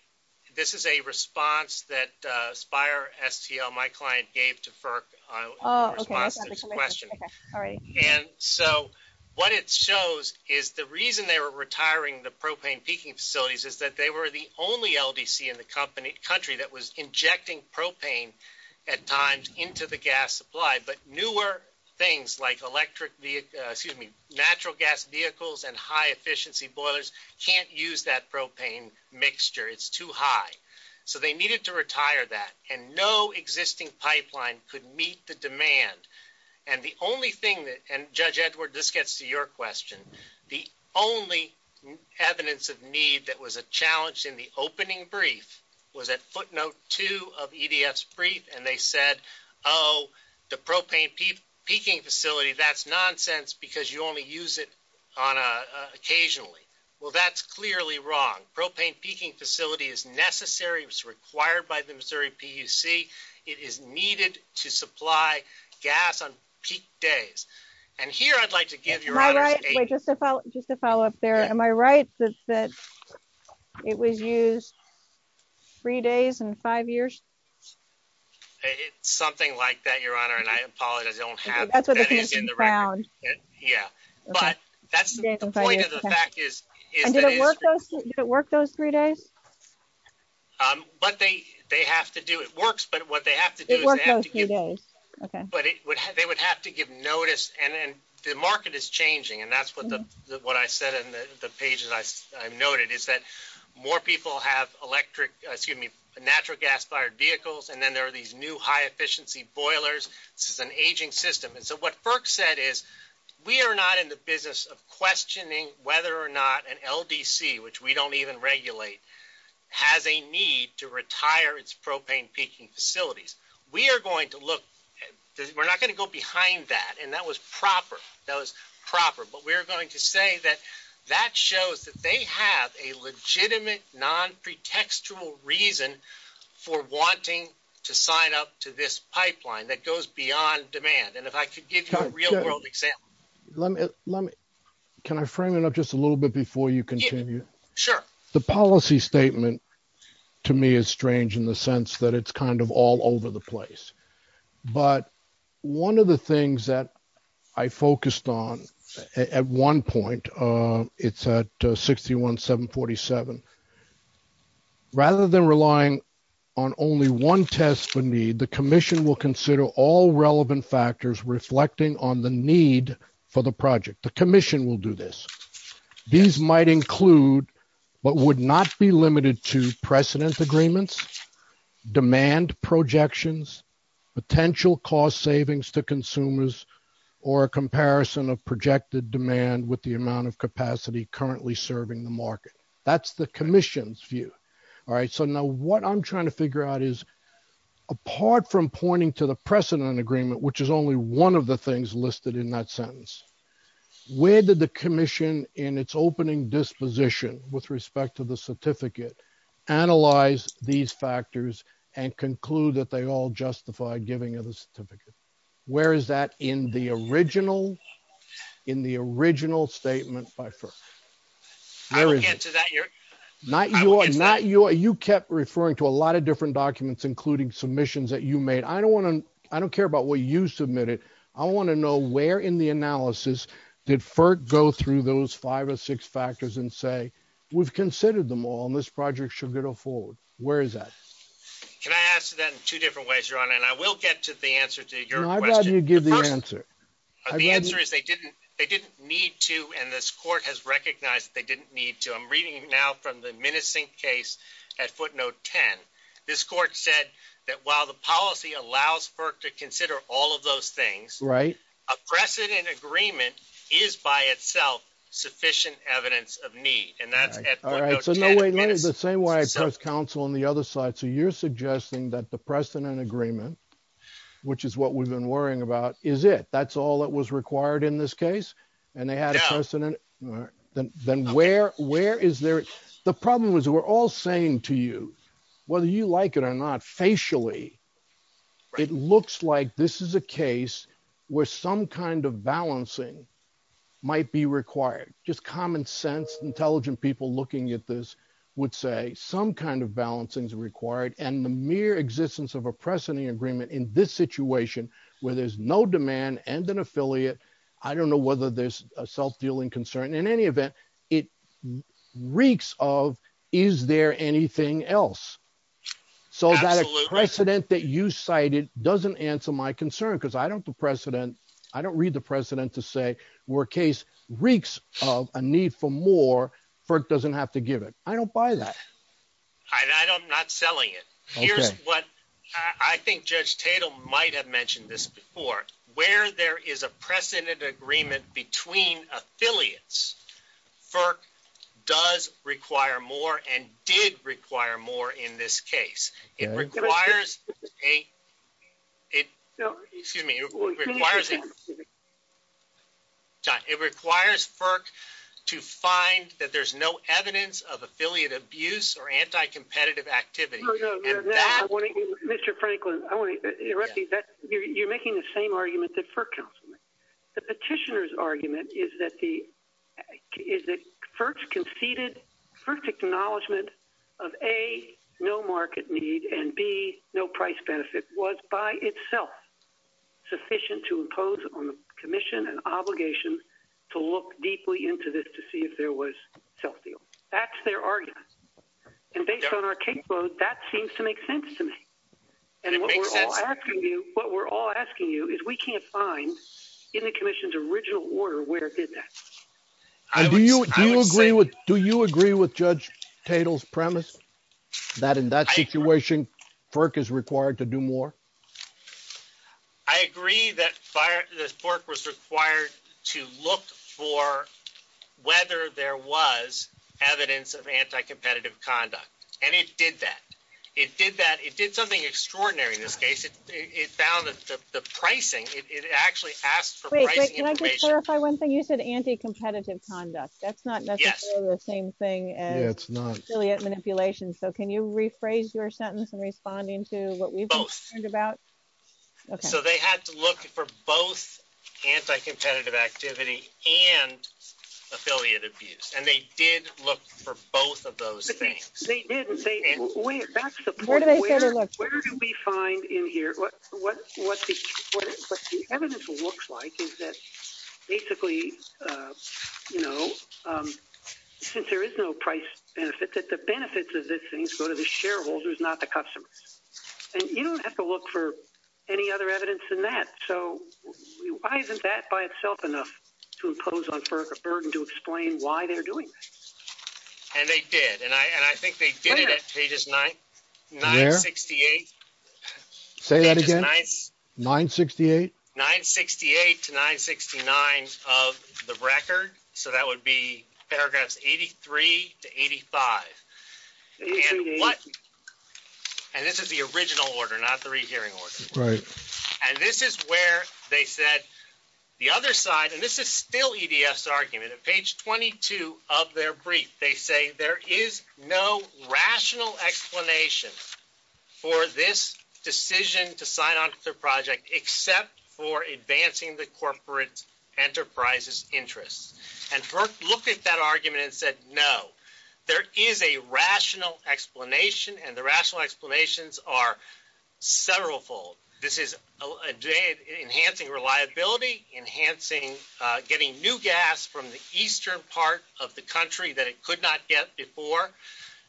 This is a response that Spire STL, my client gave to FERC. Oh, okay. And so what it shows is the reason they were retiring the propane peaking facilities is that they were the only LDC in the company country that was injecting propane at times into the gas supply, but newer things like electric, excuse me, natural gas vehicles and high efficiency boilers can't use that propane mixture. It's too high. So they needed to retire that and no existing pipeline could meet the demand. And the only thing that, and judge Edward, this gets to your question. The only evidence of need that was a challenge in the opening brief was at footnote two of EDS brief. And they said, Oh, the propane peaking facility, that's nonsense because you only use it on a occasionally. Well, that's clearly wrong. Propane peaking facility is necessary. It was required by the Missouri PUC. It is needed to supply gas on peak days. And here I'd like to give you a follow up there. Am I right? It was used three days and five years, something like that. Your honor. And I apologize. Yeah, but that's the point of the fact is, does it work those three days? But they, they have to do it works, but what they have to do, they would have to give notice and then the market is changing. And that's what the, what I said in the pages I noted is that more people have electric, excuse me, natural gas fired vehicles. And then there are these new high efficiency boilers. This is an aging system. And so what Burke said is we are not in the business of questioning whether or not an LDC, which we don't even regulate, has a need to retire its propane peaking facilities. We are going to look, we're not going to go behind that. And that was proper. That was proper, but we're going to say that that shows that they have a legitimate non pretextual reason for wanting to sign up to this pipeline that goes beyond demand. And if I could give you a real world example, let me, let me, can I frame it up just a little bit before you continue? Sure. The policy statement to me is strange in the sense that it's kind of all over the place. But one of the things that I focused on at one point it's at a 61, seven 47 rather than relying on only one test for me, the commission will consider all relevant factors reflecting on the need for the project. The commission will do this. These might include, but would not be limited to precedent agreements, demand projections, potential cost savings to consumers or a comparison of projected demand with the amount of capacity currently serving the market. That's the commission's view. All right. So now what I'm trying to figure out is apart from pointing to the precedent agreement, which is only one of the things listed in that sentence, where did the commission in its opening disposition with respect to the certificate, analyze these factors and conclude that they all justify giving him a certificate? Where is that in the original, in the original statement by first, I don't answer that. You're not, you are not, you are you kept referring to a lot of different documents, including submissions that you made. I don't want to, I don't care about what you submitted. I want to know where in the analysis did FERC go through those five or six factors and say, we've considered them all in this project should get a hold. Where is that? Can I ask that in two different ways you're on? And I will get to the answer to your question. The answer is they didn't, they didn't need to. And this court has recognized they didn't need to. I'm reading now from the menacing case at footnote 10. This court said that while the policy allows FERC to consider all of those things, right. A precedent agreement is by itself sufficient evidence of need. And that's the same way I press counsel on the other side. So you're suggesting that the precedent agreement, Which is what we've been worrying about. Is it, that's all that was required in this case. And they had a precedent. Then where, where is there? The problem is we're all saying to you, whether you like it or not facially, it looks like this is a case where some kind of balancing might be required. Just common sense. Intelligent people looking at this would say some kind of balancing is required. I don't know whether there's a precedent agreement in this situation where there's no demand and an affiliate. I don't know whether there's a self-dealing concern in any event. It reeks of, is there anything else? So that precedent that you cited doesn't answer my concern. Cause I don't, the precedent, I don't read the precedent to say we're a case reeks of a need for more FERC doesn't have to give it. I don't buy that. I don't, I'm not selling it. Here's what I think judge Tatum might have mentioned this before, where there is a precedent agreement between affiliates. FERC does require more and did require more in this case. It requires a, it, excuse me, it requires FERC to find that there's no evidence of affiliate abuse or anti-competitive activity. Mr. Franklin, I want to interrupt you. You're making the same argument that FERC counsel, the petitioner's argument is that the is the first conceded first acknowledgement of a no market need and B no price benefit was by itself sufficient to impose on the commission and obligation to look deeply into this, to see if there was self-deal. That's their argument. And based on our caseload, that seems to make sense to me. And what we're all asking you, what we're all asking you is we can't find in the commission's original order where it did that. Do you agree with, do you agree with judge Tatum's premise that in that situation, FERC is required to do more? I agree that fire this FERC was required to look for whether there was evidence of anti-competitive conduct. And it did that. It did that. It did something extraordinary in this case. It found that the pricing, it actually asked for one thing. You said anti-competitive conduct. That's not necessarily the same thing as affiliate manipulation. So can you rephrase your sentence in responding to what we've learned about? So they had to look for both anti-competitive activity and affiliate abuse. And they did look for both of those. They didn't say, where do we find in here? What the evidence looks like is that basically, you know, since there is no price benefit, that the benefits of this things go to the shareholders, not the customers. And you don't have to look for any other evidence in that. So why isn't that by itself enough to impose on FERC a burden to explain why they're doing this? And they did. And I think they did it at pages 968. Say that again. 968. 968 to 969 of the record. So that would be paragraphs 83 to 85. And this is the original order, not the rehearing order. And this is where they said the other side, and this is still EDS argument. At page 22 of their brief, they say, there is no rational explanation for this decision to sign on to the project except for advancing the corporate enterprise's interests. And FERC looked at that argument and said, no. There is a rational explanation. And the rational explanations are several fold. This is enhancing reliability, enhancing getting new gas from the Eastern part of the country that it could not get before.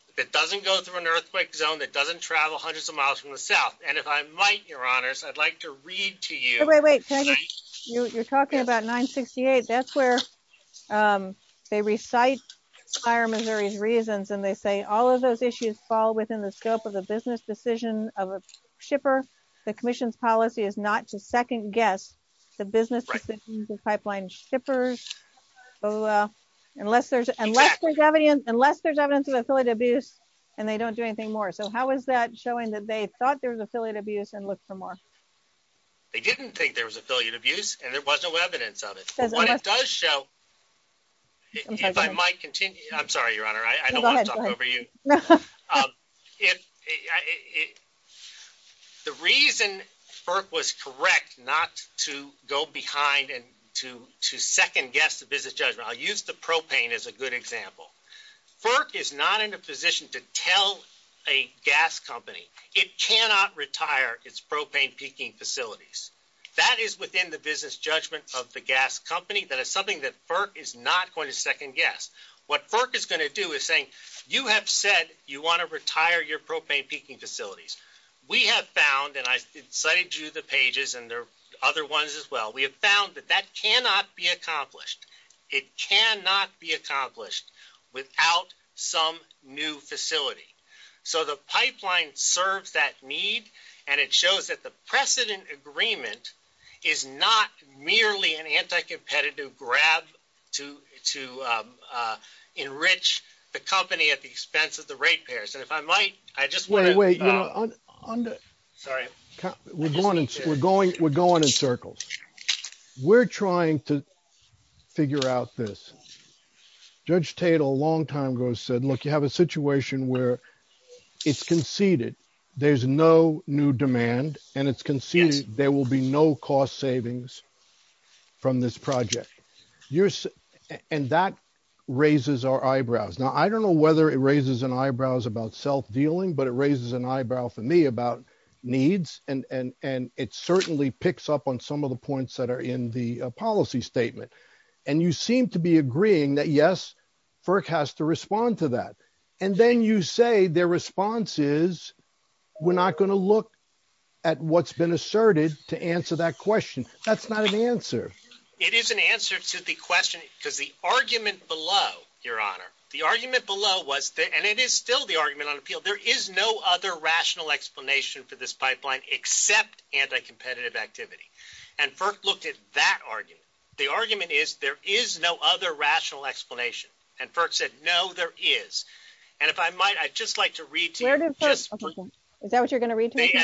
If it doesn't go through an earthquake zone that doesn't travel hundreds of miles from the South. And if I might, your honors, I'd like to read to you. You're talking about 968. That's where they recite higher Missouri's reasons. And they say all of those issues fall within the scope of a business decision of a shipper. The commission's policy is not to second guess the business pipeline shippers. Unless there's evidence, unless there's evidence of affiliate abuse and they don't do anything more. So how is that showing that they thought there was affiliate abuse and look for more? They didn't think there was affiliate abuse and it wasn't what evidence of it. It does show if I might continue, I'm sorry, your honor. I don't want to talk over you. If it, the reason FERC was correct not to go behind and to, to second guess the business judge, I'll use the propane as a good example. FERC is not in a position to tell a gas company, it cannot retire its propane peaking facilities. That is within the business judgment of the gas company. That is something that FERC is not going to second guess. What FERC is going to do is saying, you have said, you want to retire your propane peaking facilities. We have found that I cited you the pages and there are other ones as well. We have found that that cannot be accomplished. It cannot be accomplished without some new facility. So the pipeline serves that need. And it shows that the precedent agreement is not merely an agreement with FERC. It is an agreement with FERC to enrich the company at the expense of the rate payers. And if I might, I just want to. Wait, wait, Sorry. We're going in circles. We're going, we're going in circles. We're trying to figure out this. Judge Tate a long time ago said, look, you have a situation where it's conceded there's no new demand and it's conceded there will be no cost savings. From this project. And that raises our eyebrows. Now, I don't know whether it raises an eyebrows about self-dealing, but it raises an eyebrow for me about needs. And, and, and it certainly picks up on some of the points that are in the policy statement. And you seem to be agreeing that yes, FERC has to respond to that. And then you say their response is we're not going to look at what's been asserted to answer that question. That's not an answer. It is an answer to the question because the argument below your honor, the argument below was that, and it is still the argument on the field. There is no other rational explanation for this pipeline, except anti-competitive activity. And FERC looked at that argument. The argument is there is no other rational explanation. And FERC said, no, there is. And if I might, I just like to read to you. Is that what you're going to read to me?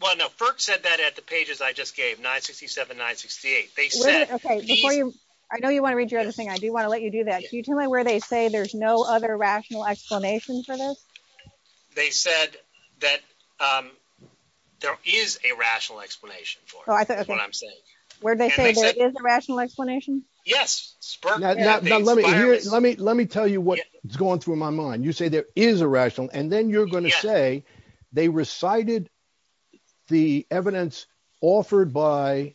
Well, no, FERC said that at the pages I just gave 967, 968. Okay. I know you want to read your other thing. I do want to let you do that. Can you tell me where they say there's no other rational explanation for this? They said that there is a rational explanation. Where'd they say there is a rational explanation? Yes. Let me, let me, let me tell you what's going through my mind. You say there is a rational, and then you're going to say they recited the evidence offered by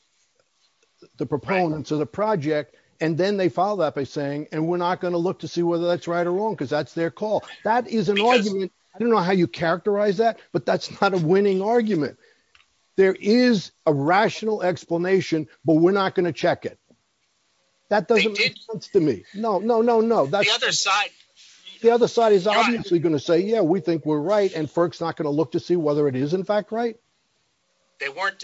the proponents of the project. And then they follow that by saying, and we're not going to look to see whether that's right or wrong. Cause that's their call. That is an argument. I don't know how you characterize that, but that's not a winning argument. There is a rational explanation, but we're not going to check it. That doesn't make sense to me. No, no, no, no. The other side is obviously going to say, yeah, we think we're right and folks not going to look to see whether it is in fact right. They weren't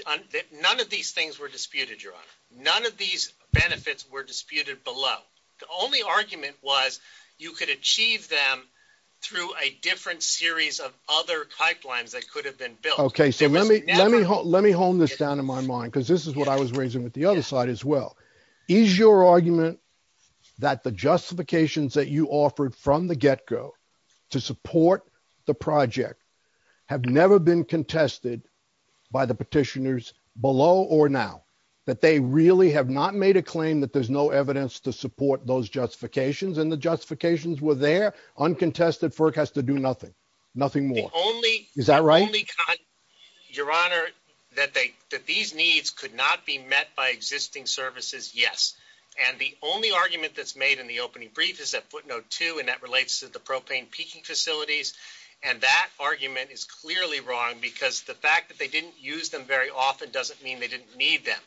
none of these things were disputed. You're on none of these benefits were disputed below. The only argument was you could achieve them through a different series of other pipelines that could have been built. Okay. So let me, let me hold, let me hold this down in my mind cause this is what I was raising with the other side as well. Is your argument that the justifications that you offered from the get go to support the project have never been contested by the petitioners below or now that they really have not made a claim that there's no evidence to support those justifications and the justifications were there uncontested for it has to do nothing, nothing more. Is that right? Your honor that they, that these needs could not be met by existing services. Yes. And the only argument that's made in the opening brief is that footnote too. And that relates to the propane peaking facilities. And that argument is clearly wrong because the fact that they didn't use them very often doesn't mean they didn't need them.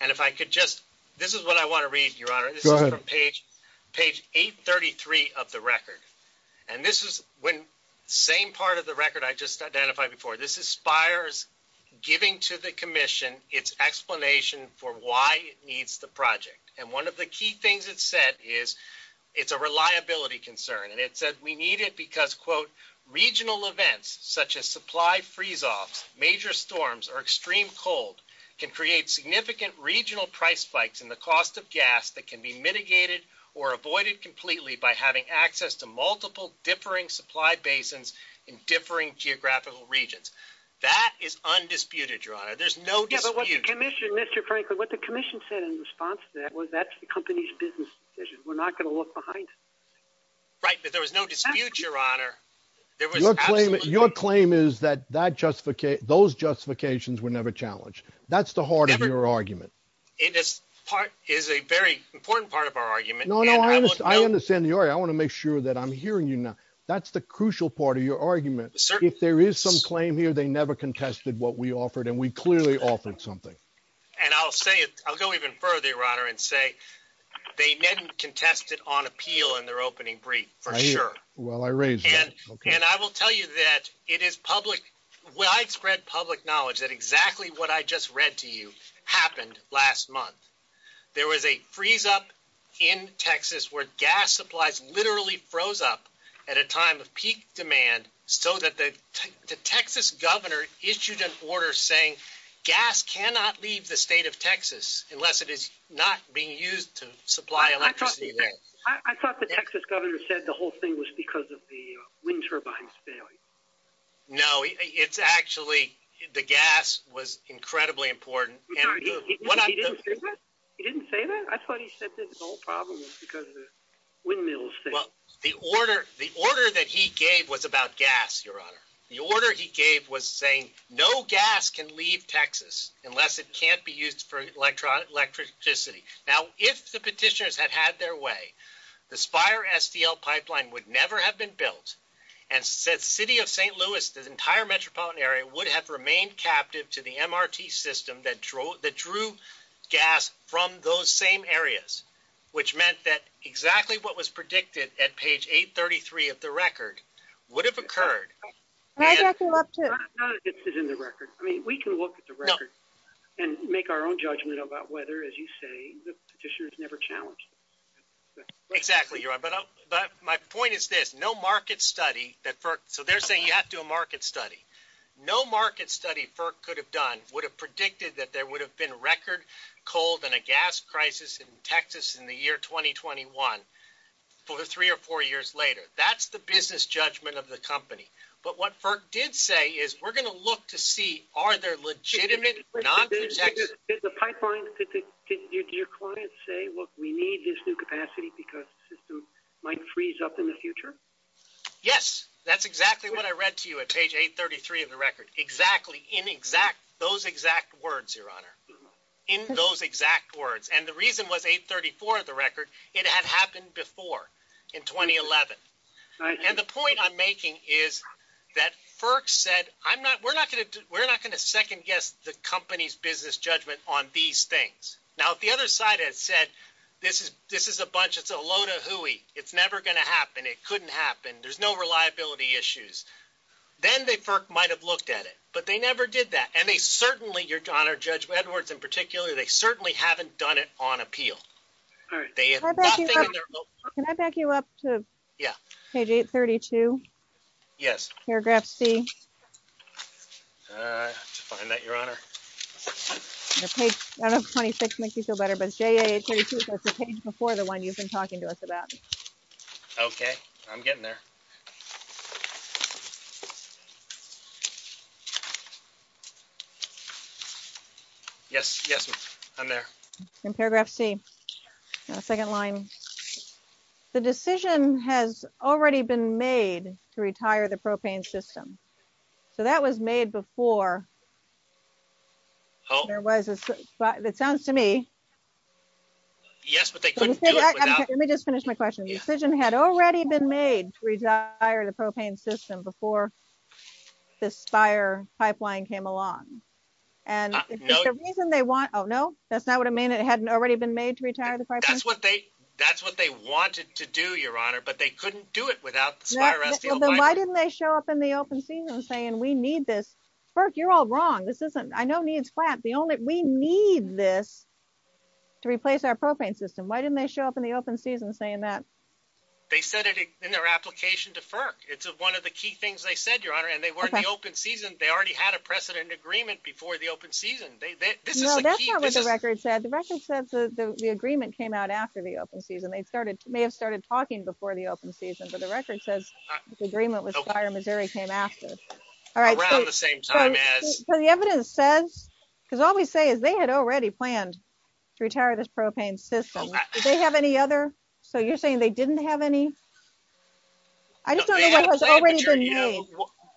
And if I could just, this is what I want to read your honor page, page eight 33 of the record. And this is when same part of the record I just identified before. This is fires giving to the commission, it's explanation for why it needs the project. And one of the key things it said is it's a reliability concern. And it said we need it because quote regional events such as supply freeze off, major storms or extreme cold can create significant regional price spikes in the cost of gas that can be mitigated or avoided completely by having access to multiple differing supply basins in differing geographical regions. That is undisputed. Your honor. There's no, but what's the commission, Mr. Franklin, what the commission said in response to that was that's the company's business decision. We're not going to look behind. Right. But there was no dispute your honor. Your claim is that that justification, those justifications were never challenged. That's the heart of your argument. It is part is a very important part of our argument. I understand your, I want to make sure that I'm hearing you now. That's the crucial part of your argument. If there is some claim here, they never contested what we offered and we clearly offered something. And I'll say, I'll go even further, your honor and say, they didn't contest it on appeal in their opening brief for sure. Well, I raised it and I will tell you that it is public. When I spread public knowledge that exactly what I just read to you happened last month. There was a freeze up in Texas, where gas supplies literally froze up at a time of peak demand. So that the Texas governor issued an order saying gas cannot leave the state of Texas unless it is not being used to supply electricity. I thought the Texas governor said the whole thing was because of the wind turbines. No, it's actually the gas was incredibly important. He didn't say that. I thought he said that his whole problem was because of the windmills. Well, the order, the order that he gave was about gas, your honor. The order he gave was saying no gas can leave Texas unless it can't be used for electronic electricity. Now, if the petitioners had had their way, this fire STL pipeline would never have been built and said city of St. Louis, the entire metropolitan area would have remained captive to the MRT system that drove the true gas from those same areas, which meant that exactly what was predicted at page eight 33 of the record would have occurred. Not if it's in the record. I mean, we can look at the record and make our own judgment about whether, as you say, the petitioners never challenged. Exactly. But my point is there's no market study that, so they're saying you have to do a market study. No market study for could have done, would have predicted that there would have been record cold and a gas crisis in Texas in the year 2021 for three or four years later. That's the business judgment of the company. But what FERC did say is we're going to look to see, are there legitimate? It's a pipeline. Did your clients say, well, we need this new capacity because the system might freeze up in the future. Yes, that's exactly what I read to you at page eight 33 of the record. Exactly. In exact, those exact words, your honor in those exact words. And the reason was eight 34 of the record. It had happened before in 2011. And the point I'm making is that FERC said, I'm not, we're not going to, we're not going to second guess the company's business judgment on these things. Now, if the other side has said, this is, this is a bunch of, it's a load of Huey. It's never going to happen. It couldn't happen. There's no reliability issues. Then they might've looked at it, but they never did that. And they certainly, your honor, judge Edwards in particular, they certainly haven't done it on appeal. Can I back you up to? Yeah. Okay. Day 32. Yes. Paragraph C. Uh, to find that your honor. Okay. 26 makes you feel better, but it's day before the one you've been talking to us about. Okay. I'm getting there. Yes. Yes. I'm there in paragraph C. Second line. The decision has already been made to retire the propane system. So that was made before. Oh, there was, it sounds to me. Yes. Okay. Let me just finish my question. The decision had already been made to retire the propane system before. This fire pipeline came along. And the reason they want, Oh, no, that's not what I mean. It hadn't already been made to retire. That's what they, that's what they wanted to do your honor, but they couldn't do it without. Why didn't they show up in the open season and saying, we need this. Burke, you're all wrong. This isn't, I know needs flat. The only, we need this. To replace our propane system. Why didn't they show up in the open season saying that. They said it in their application to FERC. It's one of the key things they said, your honor, and they weren't the open season. They already had a precedent agreement before the open season. No, that's not what the record said. The record says that the agreement came out after the open season. They started, may have started talking before the open season, but the record says the agreement with fire Missouri came after. All right. So the evidence says, because all we say is they had already planned to retire this propane system. They have any other, so you're saying they didn't have any. I just don't know.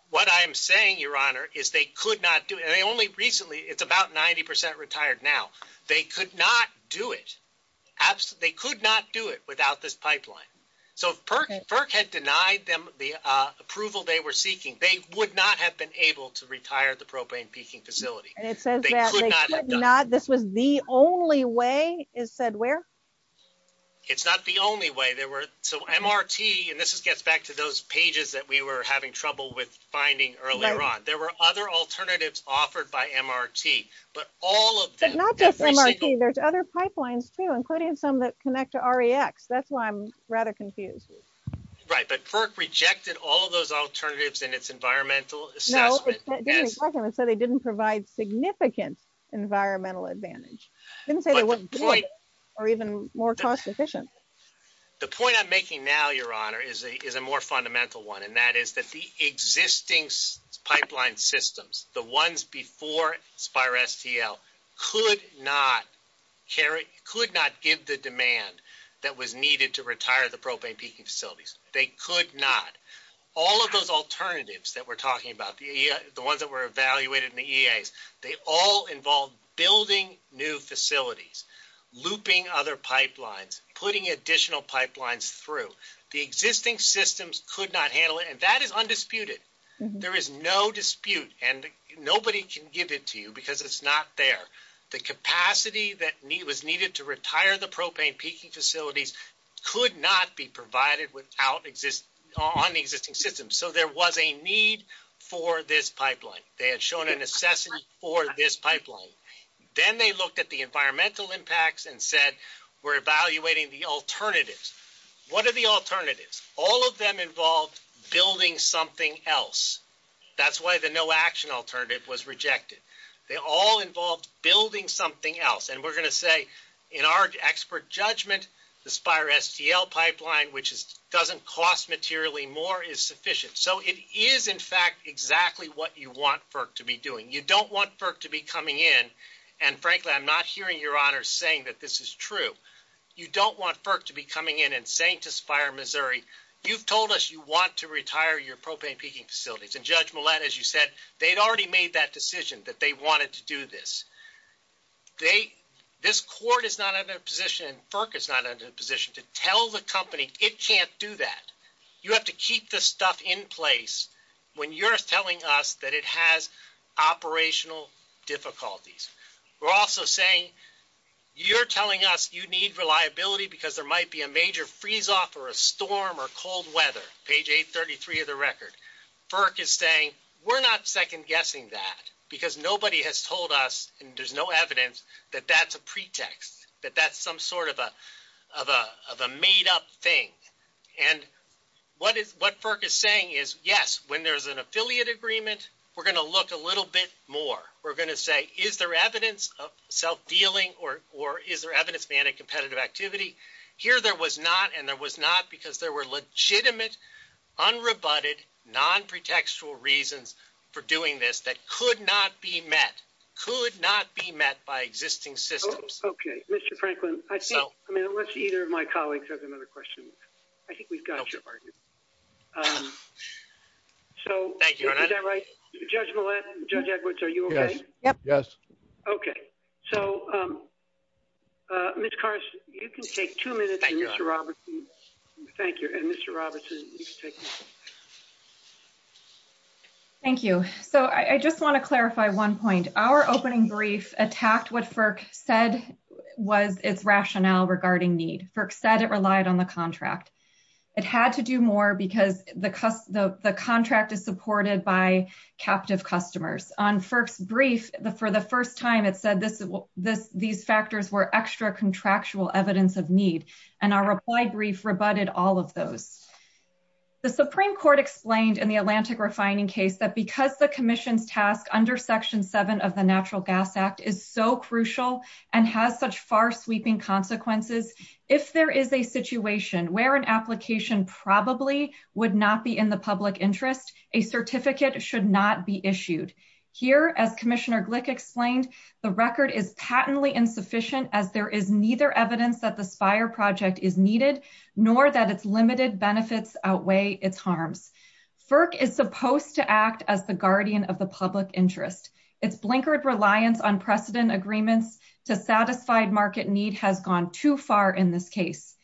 What I'm saying, your honor is they could not do it. They only recently it's about 90% retired. Now they could not do it. Absolutely. They could not do it without this pipeline. So if Burke had denied them the approval they were seeking, they would not have been able to retire the propane peaking facility. So the record says that they could not, this was the only way it said where. It's not the only way they were. So MRT, and this gets back to those pages that we were having trouble with finding earlier on. There were other alternatives offered by MRT, but all of them. There's other pipelines too, including some that connect to re X. That's why I'm rather confused. Right. But for rejected all of those alternatives and it's environmental. They didn't provide significant environmental advantage. Or even more cost efficient. The point I'm making now, your honor is a, is a more fundamental one. And that is that the existing pipeline systems, the ones before Spire STL could not. Kerry could not give the demand that was needed to retire the propane peaking facilities. They could not all of those alternatives that we're talking about. The ones that were evaluated in the EAS, they all involved building new facilities, looping other pipelines, putting additional pipelines through the existing systems could not handle it. And that is undisputed. There is no dispute and nobody can give it to you because it's not there. The capacity that need was needed to retire the propane peaking facilities could not be provided without exist on the existing system. So there was a need for this pipeline. They had shown an assessment for this pipeline. Then they looked at the environmental impacts and said, we're evaluating the alternatives. What are the alternatives? All of them involved building something else. That's why the no action alternative was rejected. They all involved building something else. And we're going to say in our expert judgment, the Spire STL pipeline, which doesn't cost materially more is sufficient. So it is in fact exactly what you want FERC to be doing. You don't want FERC to be coming in. And frankly, I'm not hearing your honors saying that this is true. You don't want FERC to be coming in and saying to Spire Missouri, you've told us you want to retire your propane peaking facilities. And Judge Millett, as you said, they'd already made that decision that they wanted to do this. This court is not in a position, and FERC is not in a position to tell the company it can't do that. You have to keep this stuff in place when you're telling us that it has operational difficulties. We're also saying, you're telling us you need reliability because there might be a major freeze off or a storm or cold weather. Page 833 of the record. FERC is saying we're not second guessing that because nobody has told us, and there's no evidence that that's a pretext, that that's some sort of a made up thing. And what FERC is saying is, yes, when there's an affiliate agreement, we're going to look a little bit more. We're going to say, is there evidence of self-dealing or is there evidence of anti-competitive activity? Here there was not, and there was not because there were legitimate, unrebutted, non-pretextual reasons for doing this that could not be met, could not be met by existing systems. Mr. Franklin, I think, I mean, unless either of my colleagues has another question, I think we've got your partner. So, is that right? Judge Millett, Judge Edwards, are you okay? Yes. Okay. So, Ms. Carson, you can take two minutes. Thank you. And Mr. Robertson. Thank you. So, I just want to clarify one point. Our opening brief attacked what FERC said was its rationale regarding need. FERC said it relied on the contract. It had to do more because the contract is supported by captive customers. On FERC's brief, for the first time it said these factors were extra contractual evidence of need. And our reply brief rebutted all of those. The Supreme Court explained in the Atlantic refining case that because the commission's task under Section 7 of the Natural Gas Act is so crucial and has such far-sweeping consequences, if there is a situation where an application probably would not be in the public interest, a certificate should not be issued. Here, as Commissioner Glick explained, the record is patently insufficient as there is neither evidence that the SPIRE project is needed nor that its limited benefits outweigh its harms. FERC is supposed to act as the guardian of the public interest. Its blinkered reliance on precedent agreements to satisfy market need has gone too far in this case.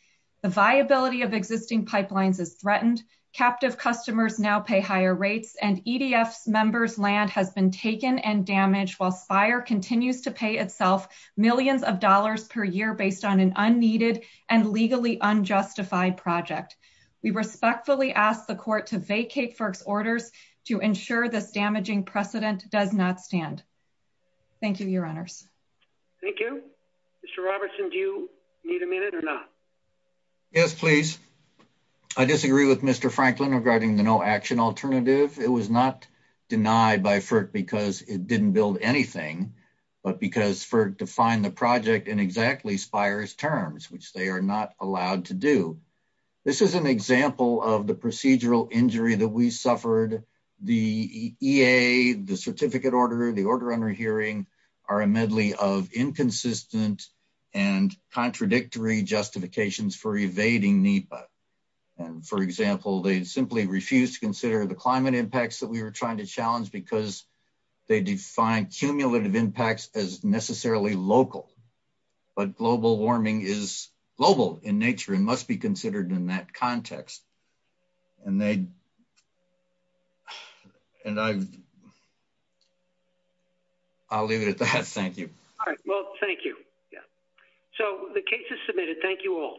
The viability of existing pipelines is threatened, captive customers now pay higher rates, and EDF members' land has been taken and damaged while SPIRE continues to pay itself millions of dollars per year based on an unneeded and legally unjustified project. We respectfully ask the Court to vacate FERC's orders to ensure this damaging precedent does not stand. Thank you, Your Honors. Thank you. Mr. Robertson, do you need a minute or not? Yes, please. I disagree with Mr. Franklin regarding the no-action alternative. It was not denied by FERC because it didn't build anything, but because FERC defined the project in exactly SPIRE's terms, which they are not allowed to do. This is an example of the procedural injury that we suffered. The EA, the certificate order, the order under hearing are a medley of inconsistent and contradictory justifications for evading NEPA. And, for example, they simply refuse to consider the climate impacts that we are trying to challenge because they define cumulative impacts as necessarily local. But global warming is global in nature and must be considered in that context. And they... And I... I'll leave it at that. Thank you. All right. Well, thank you. So, the case is submitted. Thank you all.